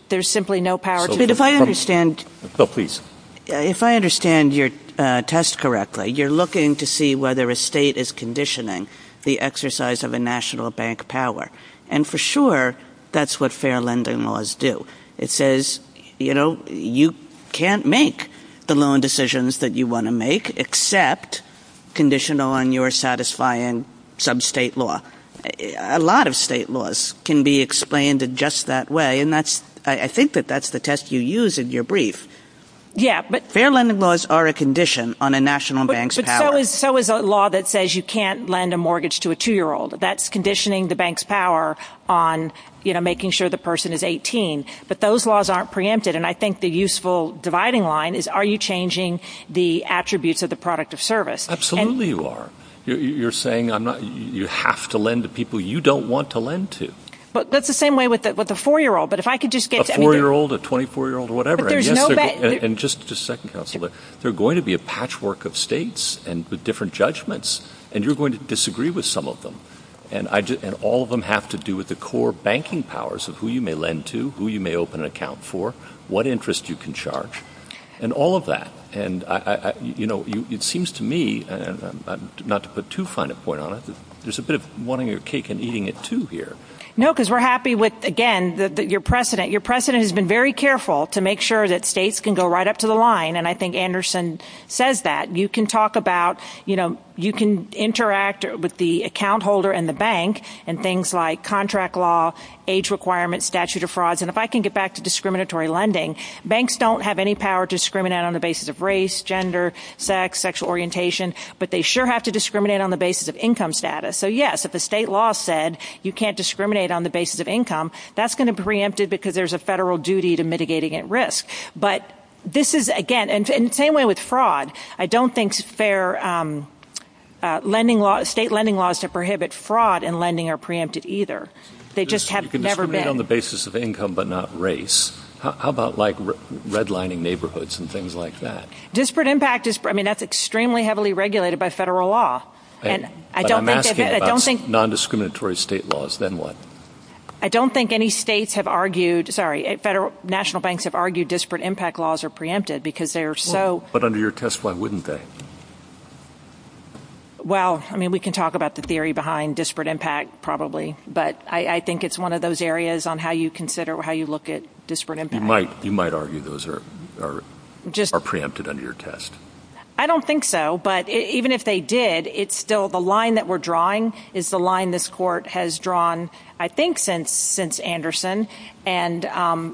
There's simply no power to... But if I understand... Phil, please. If I understand your test correctly, you're looking to see whether a state is conditioning the exercise of a national bank power. And for sure, that's what fair lending laws do. It says, you know, you can't make the loan decisions that you want to make except conditioned on your satisfying sub-state law. A lot of state laws can be explained in just that way, and that's... I think that that's the test you use in your brief. Yeah, but... Fair lending laws are a condition on a national bank's power. But so is a law that says you can't lend a mortgage to a two-year-old. That's conditioning the bank's power on, you know, making sure the person is 18. But those laws aren't preempted, and I think the useful dividing line is are you changing the attributes of the product of service? Absolutely you are. You're saying I'm not... You have to lend to people you don't want to lend to. But that's the same way with a four-year-old. But if I could just get... A four-year-old, a 24-year-old, whatever. But there's no... And just a second, Counselor. There are going to be a patchwork of states with different judgments, and you're going to disagree with some of them. And all of them have to do with the core banking powers of who you may lend to, who you may open an account for, what interest you can charge, and all of that. And, you know, it seems to me, not to put too fine a point on it, but there's a bit of wanting your cake and eating it, too, here. No, because we're happy with, again, your precedent. The President has been very careful to make sure that states can go right up to the line, and I think Anderson says that. You can talk about, you know, you can interact with the account holder and the bank and things like contract law, age requirements, statute of frauds. And if I can get back to discriminatory lending, banks don't have any power to discriminate on the basis of race, gender, sex, sexual orientation. But they sure have to discriminate on the basis of income status. So, yes, if the state law said you can't discriminate on the basis of income, that's going to be preempted because there's a federal duty to mitigating at risk. But this is, again, and the same way with fraud, I don't think state lending laws that prohibit fraud in lending are preempted either. They just have never been. You can discriminate on the basis of income but not race. How about, like, redlining neighborhoods and things like that? Disparate impact, I mean, that's extremely heavily regulated by federal law. But I'm asking about nondiscriminatory state laws, then what? I don't think any states have argued, sorry, national banks have argued disparate impact laws are preempted because they're so... But under your test, why wouldn't they? Well, I mean, we can talk about the theory behind disparate impact probably, but I think it's one of those areas on how you consider, how you look at disparate impact. You might argue those are preempted under your test. I don't think so, but even if they did, it's still the line that we're drawing is the line this court has drawn, I think, since Anderson. And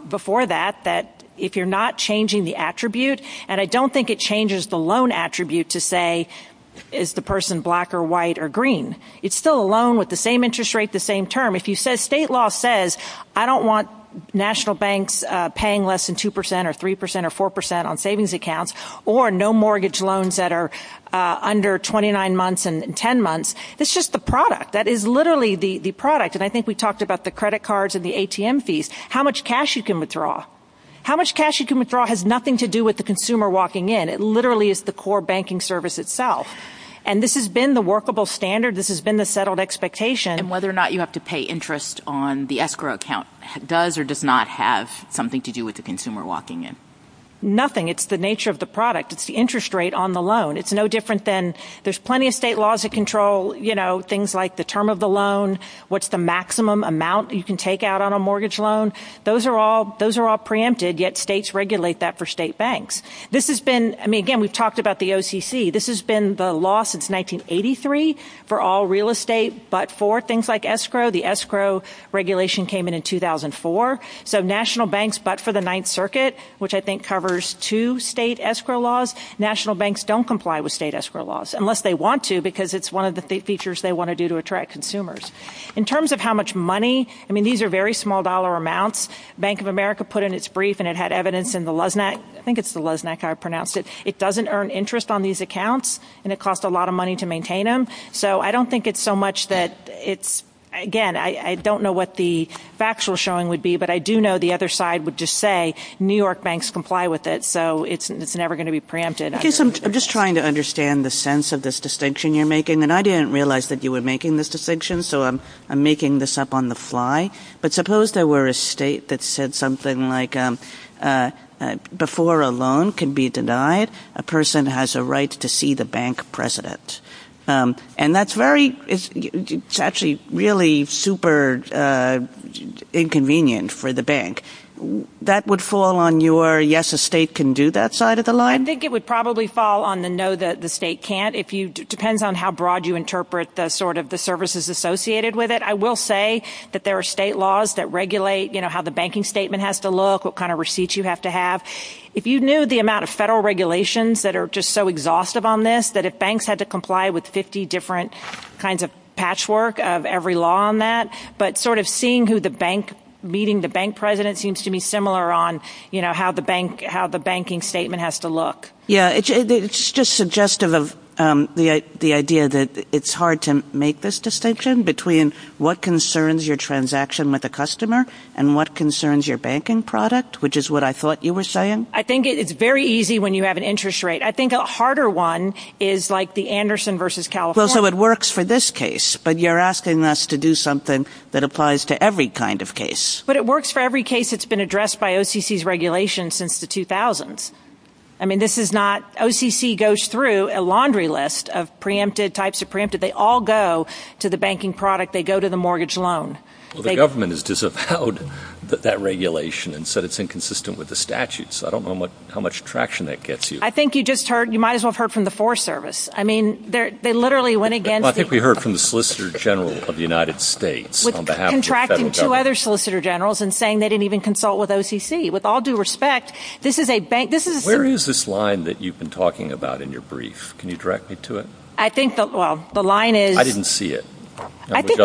before that, that if you're not changing the attribute, and I don't think it changes the loan attribute to say, is the person black or white or green? It's still a loan with the same interest rate, the same term. If you say state law says, I don't want national banks paying less than 2% or 3% or 4% on savings accounts, or no mortgage loans that are under 29 months and 10 months, it's just the product. That is literally the product, and I think we talked about the credit cards and the ATM fees, how much cash you can withdraw. How much cash you can withdraw has nothing to do with the consumer walking in. It literally is the core banking service itself. And this has been the workable standard. This has been the settled expectation. And whether or not you have to pay interest on the escrow account does or does not have something to do with the consumer walking in. Nothing. It's the nature of the product. It's the interest rate on the loan. It's no different than there's plenty of state laws that control things like the term of the loan, what's the maximum amount you can take out on a mortgage loan. Those are all preempted, yet states regulate that for state banks. This has been, I mean, again, we've talked about the OCC. This has been the law since 1983 for all real estate but for things like escrow. The escrow regulation came in in 2004. So national banks but for the Ninth Circuit, which I think covers two state escrow laws, national banks don't comply with state escrow laws, unless they want to because it's one of the features they want to do to attract consumers. In terms of how much money, I mean, these are very small dollar amounts. Bank of America put in its brief, and it had evidence in the LESNAC. I think it's the LESNAC how I pronounced it. It doesn't earn interest on these accounts, and it costs a lot of money to maintain them. So I don't think it's so much that it's, again, I don't know what the factual showing would be, but I do know the other side would just say New York banks comply with it. So it's never going to be preempted. I'm just trying to understand the sense of this distinction you're making, and I didn't realize that you were making this distinction. So I'm making this up on the fly. But suppose there were a state that said something like before a loan can be denied, a person has a right to see the bank president. And that's very, it's actually really super inconvenient for the bank. That would fall on your yes, a state can do that side of the line? I think it would probably fall on the no, the state can't. It depends on how broad you interpret sort of the services associated with it. I will say that there are state laws that regulate how the banking statement has to look, what kind of receipts you have to have. If you knew the amount of federal regulations that are just so exhaustive on this, that if banks had to comply with 50 different kinds of patchwork of every law on that, but sort of seeing who the bank, meeting the bank president seems to be similar on how the banking statement has to look. Yeah, it's just suggestive of the idea that it's hard to make this distinction between what concerns your transaction with a customer and what concerns your banking product, which is what I thought you were saying. I think it's very easy when you have an interest rate. I think a harder one is like the Anderson versus California. So it works for this case, but you're asking us to do something that applies to every kind of case. But it works for every case that's been addressed by OCC's regulations since the 2000s. I mean, OCC goes through a laundry list of types of preemptive. They all go to the banking product. They go to the mortgage loan. The government has disavowed that regulation and said it's inconsistent with the statutes. I don't know how much traction that gets you. I think you might as well have heard from the Forest Service. I mean, they literally went against it. Well, I think we heard from the Solicitor General of the United States on behalf of the federal government. Contracting two other Solicitor Generals and saying they didn't even consult with OCC. With all due respect, this is a bank. Where is this line that you've been talking about in your brief? Can you direct me to it? I think that, well, the line is. I didn't see it. I think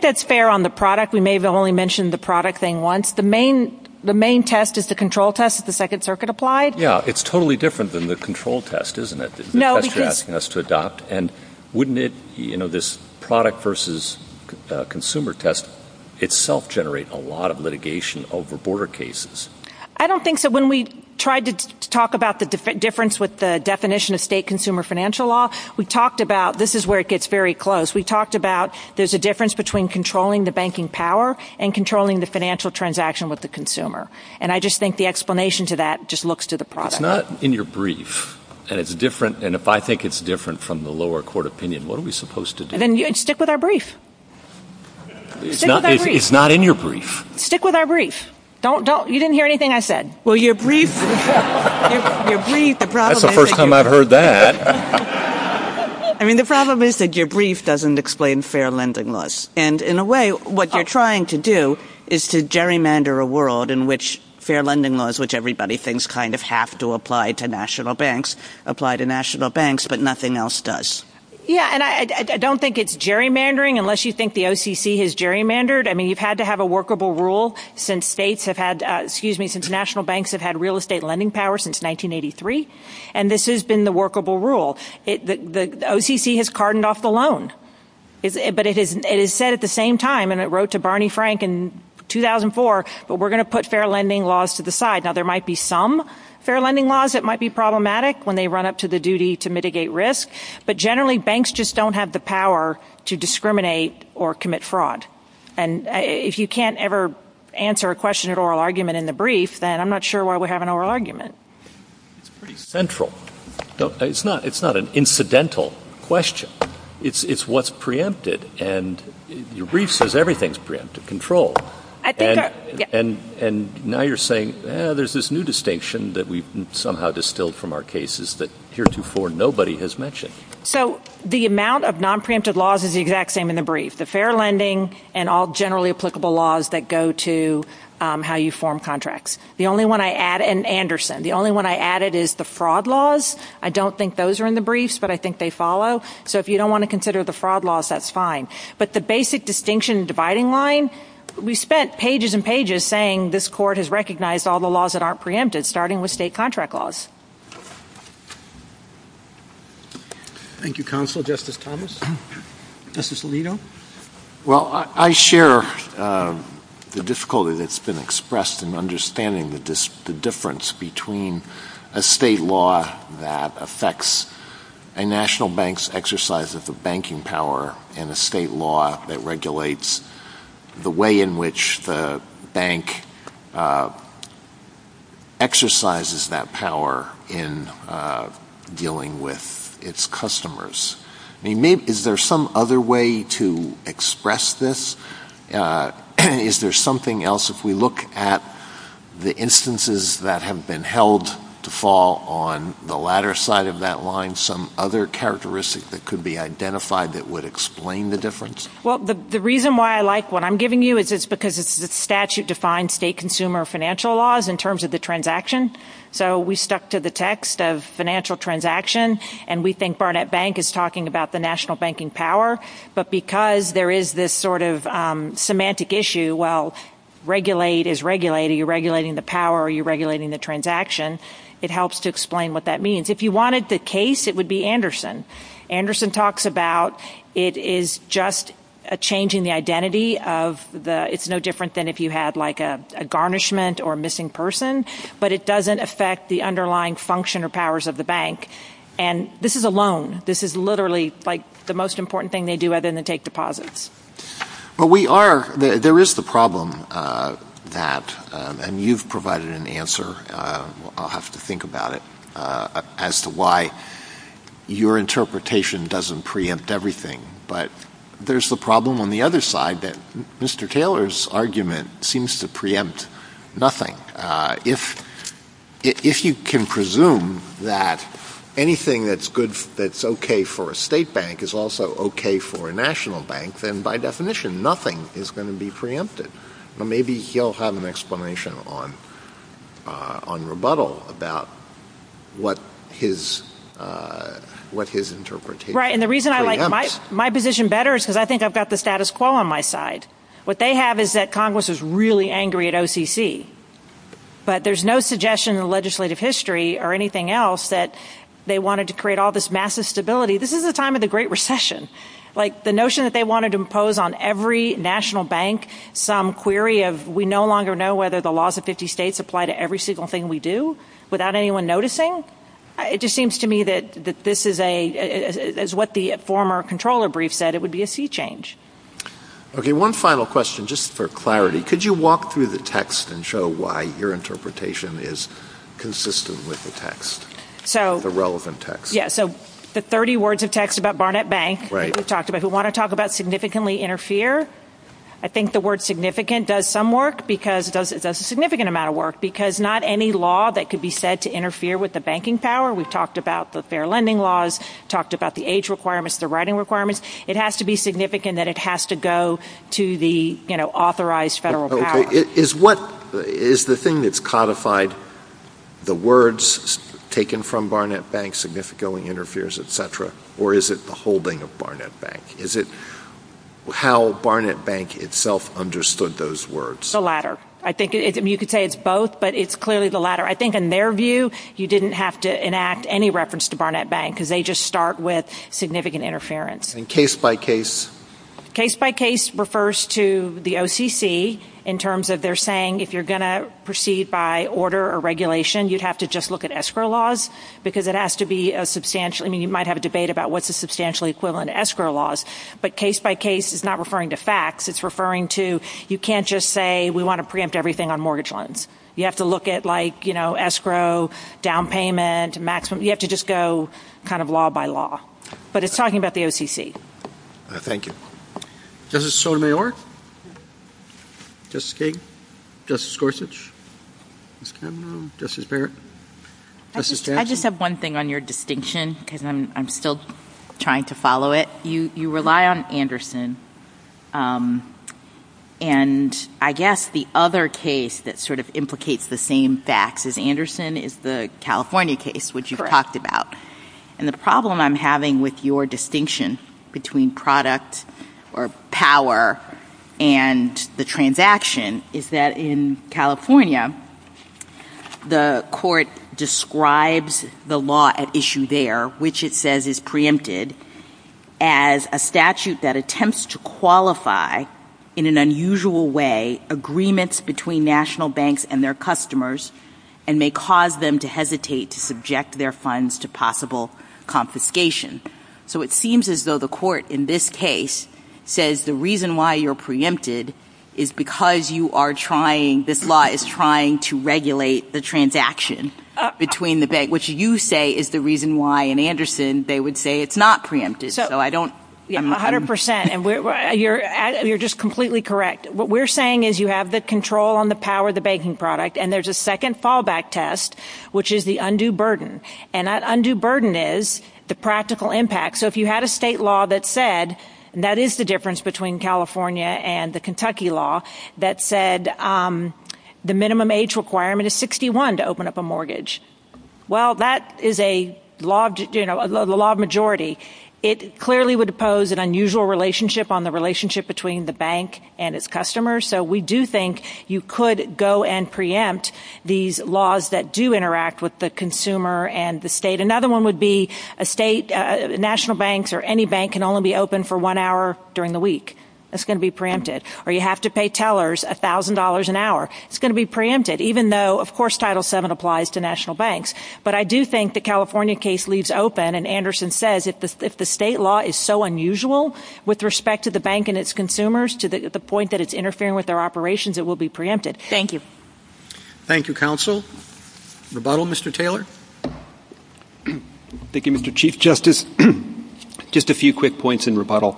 that's fair on the product. We may have only mentioned the product thing once. The main test is the control test that the Second Circuit applied. Yeah, it's totally different than the control test, isn't it, the test you're asking us to adopt? And wouldn't this product versus consumer test itself generate a lot of litigation over border cases? I don't think so. When we tried to talk about the difference with the definition of state consumer financial law, we talked about this is where it gets very close. We talked about there's a difference between controlling the banking power and controlling the financial transaction with the consumer. And I just think the explanation to that just looks to the product. It's not in your brief. And if I think it's different from the lower court opinion, what are we supposed to do? Then stick with our brief. It's not in your brief. Stick with our brief. You didn't hear anything I said. Well, your brief, the problem is that your brief doesn't explain fair lending laws. And in a way, what you're trying to do is to gerrymander a world in which fair lending laws, which everybody thinks kind of have to apply to national banks, apply to national banks, but nothing else does. Yeah, and I don't think it's gerrymandering unless you think the OCC has gerrymandered. I mean, you've had to have a workable rule since national banks have had real estate lending power since 1983. And this has been the workable rule. The OCC has cardened off the loan. But it has said at the same time, and it wrote to Barney Frank in 2004, but we're going to put fair lending laws to the side. Now, there might be some fair lending laws that might be problematic when they run up to the duty to mitigate risk. But generally, banks just don't have the power to discriminate or commit fraud. And if you can't ever answer a question at oral argument in the brief, then I'm not sure why we have an oral argument. It's pretty central. It's not an incidental question. It's what's preempted. And your brief says everything's preempted, controlled. And now you're saying, there's this new distinction that we've somehow distilled from our cases that heretofore nobody has mentioned. So the amount of non-preempted laws is the exact same in the brief, the fair lending and all generally applicable laws that go to how you form contracts. And Anderson, the only one I added is the fraud laws. I don't think those are in the briefs, but I think they follow. So if you don't want to consider the fraud laws, that's fine. But the basic distinction dividing line, we spent pages and pages saying this court has recognized all the laws that aren't preempted, starting with state contract laws. Thank you, Counsel. Justice Thomas? Justice Alito? Well, I share the difficulty that's been expressed in understanding the difference between a state law that affects a national bank's exercise of the banking power and a state law that regulates the way in which the bank exercises that power in dealing with its customers. I mean, is there some other way to express this? Is there something else? If we look at the instances that have been held to fall on the latter side of that line, some other characteristic that could be identified that would explain the difference? Well, the reason why I like what I'm giving you is it's because the statute defines state consumer financial laws in terms of the transaction. So we stuck to the text of financial transaction, and we think Barnett Bank is talking about the national banking power. But because there is this sort of semantic issue, well, regulate is regulating. You're regulating the power or you're regulating the transaction. It helps to explain what that means. If you wanted the case, it would be Anderson. Anderson talks about it is just changing the identity of the – it's no different than if you had, like, a garnishment or a missing person. But it doesn't affect the underlying function or powers of the bank. And this is a loan. This is literally, like, the most important thing they do other than take deposits. Well, we are – there is the problem that – and you've provided an answer. I'll have to think about it as to why your interpretation doesn't preempt everything. But there's the problem on the other side that Mr. Kahler's argument seems to preempt nothing. If you can presume that anything that's good – that's okay for a state bank is also okay for a national bank, then by definition, nothing is going to be preempted. Maybe he'll have an explanation on rebuttal about what his interpretation preempts. My position better is because I think I've got the status quo on my side. What they have is that Congress is really angry at OCC. But there's no suggestion in legislative history or anything else that they wanted to create all this massive stability. This is the time of the Great Recession. Like, the notion that they wanted to impose on every national bank some query of we no longer know whether the laws of 50 states apply to every single thing we do without anyone noticing, it just seems to me that this is a – as what the former comptroller brief said, it would be a sea change. Okay, one final question just for clarity. Could you walk through the text and show why your interpretation is consistent with the text, the relevant text? Yeah, so the 30 words of text about Barnett Bank that was talked about. We want to talk about significantly interfere. I think the word significant does some work because – does a significant amount of work because not any law that could be said to interfere with the banking power. We've talked about the fair lending laws, talked about the age requirements, the writing requirements. It has to be significant that it has to go to the, you know, authorized federal power. Okay, is what – is the thing that's codified the words taken from Barnett Bank significantly interferes, et cetera, or is it the holding of Barnett Bank? Is it how Barnett Bank itself understood those words? The latter. I think you could say it's both, but it's clearly the latter. I think in their view, you didn't have to enact any reference to Barnett Bank because they just start with significant interference. And case by case? Case by case refers to the OCC in terms of they're saying if you're going to proceed by order or regulation, you'd have to just look at escrow laws because it has to be a substantial – I mean, you might have a debate about what's a substantially equivalent escrow laws. But case by case is not referring to facts. It's referring to you can't just say we want to preempt everything on mortgage loans. You have to look at, like, you know, escrow, down payment, maximum – you have to just go kind of law by law. But it's talking about the OCC. Thank you. Justice Sotomayor? Justice King? Justice Gorsuch? Justice Barrett? Justice Jackson? I just have one thing on your distinction because I'm still trying to follow it. You rely on Anderson. And I guess the other case that sort of implicates the same facts as Anderson is the California case, which you've talked about. And the problem I'm having with your distinction between product or power and the transaction is that in California, the court describes the law at issue there, which it says is preempted, as a statute that attempts to qualify in an unusual way agreements between national banks and their customers and may cause them to hesitate to subject their funds to possible confiscation. So it seems as though the court in this case says the reason why you're preempted is because you are trying – this law is trying to regulate the transaction between the bank, which you say is the reason why in Anderson they would say it's not preempted. So I don't – Yes, 100 percent. And you're just completely correct. What we're saying is you have the control on the power of the banking product, and there's a second fallback test, which is the undue burden. And that undue burden is the practical impact. So if you had a state law that said – and that is the difference between California and the Kentucky law – that said the minimum age requirement is 61 to open up a mortgage, well, that is a law of majority. It clearly would impose an unusual relationship on the relationship between the bank and its customers. So we do think you could go and preempt these laws that do interact with the consumer and the state. Another one would be a state – national banks or any bank can only be open for one hour during the week. That's going to be preempted. Or you have to pay tellers $1,000 an hour. It's going to be preempted, even though, of course, Title VII applies to national banks. But I do think the California case leaves open, and Anderson says, if the state law is so unusual with respect to the bank and its consumers to the point that it's interfering with their operations, it will be preempted. Thank you. Thank you, counsel. Rebuttal, Mr. Taylor? Thank you, Mr. Chief Justice. Just a few quick points in rebuttal.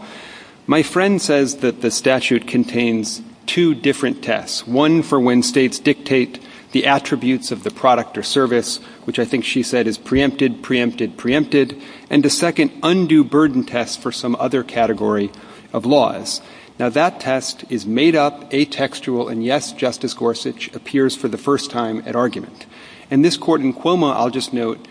My friend says that the statute contains two different tests, one for when states dictate the attributes of the product or service, which I think she said is preempted, preempted, preempted, and a second undue burden test for some other category of laws. Now, that test is made up, atextual, and, yes, Justice Gorsuch appears for the first time at argument. And this court in Cuomo, I'll just note,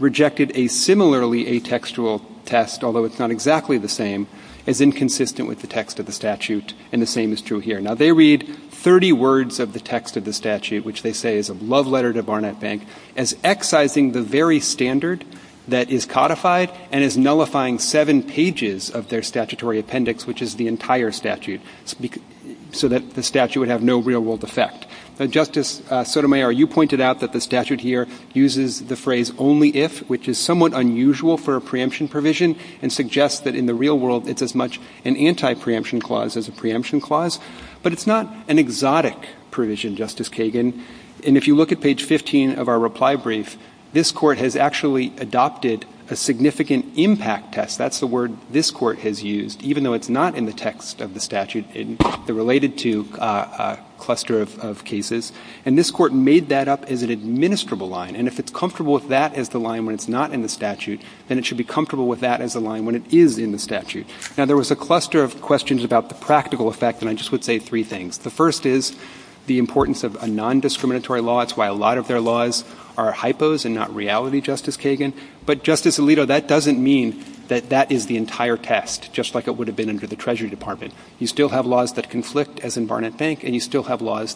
rejected a similarly atextual test, although it's not exactly the same, as inconsistent with the text of the statute, and the same is true here. Now, they read 30 words of the text of the statute, which they say is a love letter to Barnett Bank, as excising the very standard that is codified and as nullifying seven pages of their statutory appendix, which is the entire statute, so that the statute would have no real-world effect. Justice Sotomayor, you pointed out that the statute here uses the phrase only if, which is somewhat unusual for a preemption provision, and suggests that in the real world it's as much an anti-preemption clause as a preemption clause. But it's not an exotic provision, Justice Kagan. And if you look at page 15 of our reply brief, this court has actually adopted a significant impact test. That's the word this court has used, even though it's not in the text of the statute. It's related to a cluster of cases. And this court made that up as an administrable line. And if it's comfortable with that as the line when it's not in the statute, then it should be comfortable with that as the line when it is in the statute. Now, there was a cluster of questions about the practical effect, and I just would say three things. The first is the importance of a nondiscriminatory law. That's why a lot of their laws are hypos and not reality, Justice Kagan. But, Justice Alito, that doesn't mean that that is the entire test, just like it would have been under the Treasury Department. You still have laws that conflict, as in Barnett Bank, and you still have laws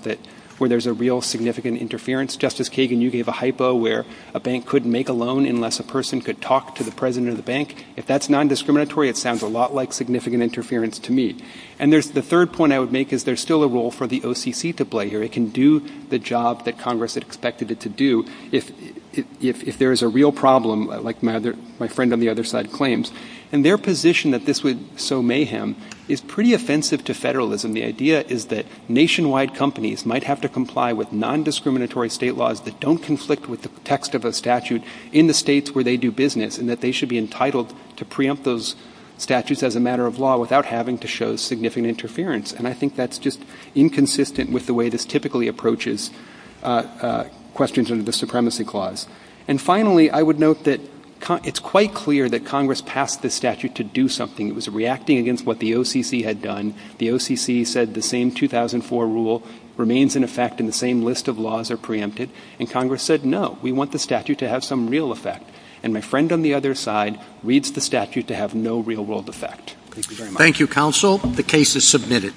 where there's a real significant interference. Justice Kagan, you gave a hypo where a bank couldn't make a loan unless a person could talk to the president of the bank. If that's nondiscriminatory, it sounds a lot like significant interference to me. And the third point I would make is there's still a role for the OCC to play here. It can do the job that Congress had expected it to do if there is a real problem, like my friend on the other side claims. And their position that this would sow mayhem is pretty offensive to federalism. The idea is that nationwide companies might have to comply with nondiscriminatory state laws that don't conflict with the text of a statute in the states where they do business and that they should be entitled to preempt those statutes as a matter of law without having to show significant interference. And I think that's just inconsistent with the way this typically approaches questions under the Supremacy Clause. And finally, I would note that it's quite clear that Congress passed this statute to do something. It was reacting against what the OCC had done. The OCC said the same 2004 rule remains in effect and the same list of laws are preempted. And Congress said, no, we want the statute to have some real effect. And my friend on the other side reads the statute to have no real world effect. Thank you very much. Thank you, counsel. The case is submitted.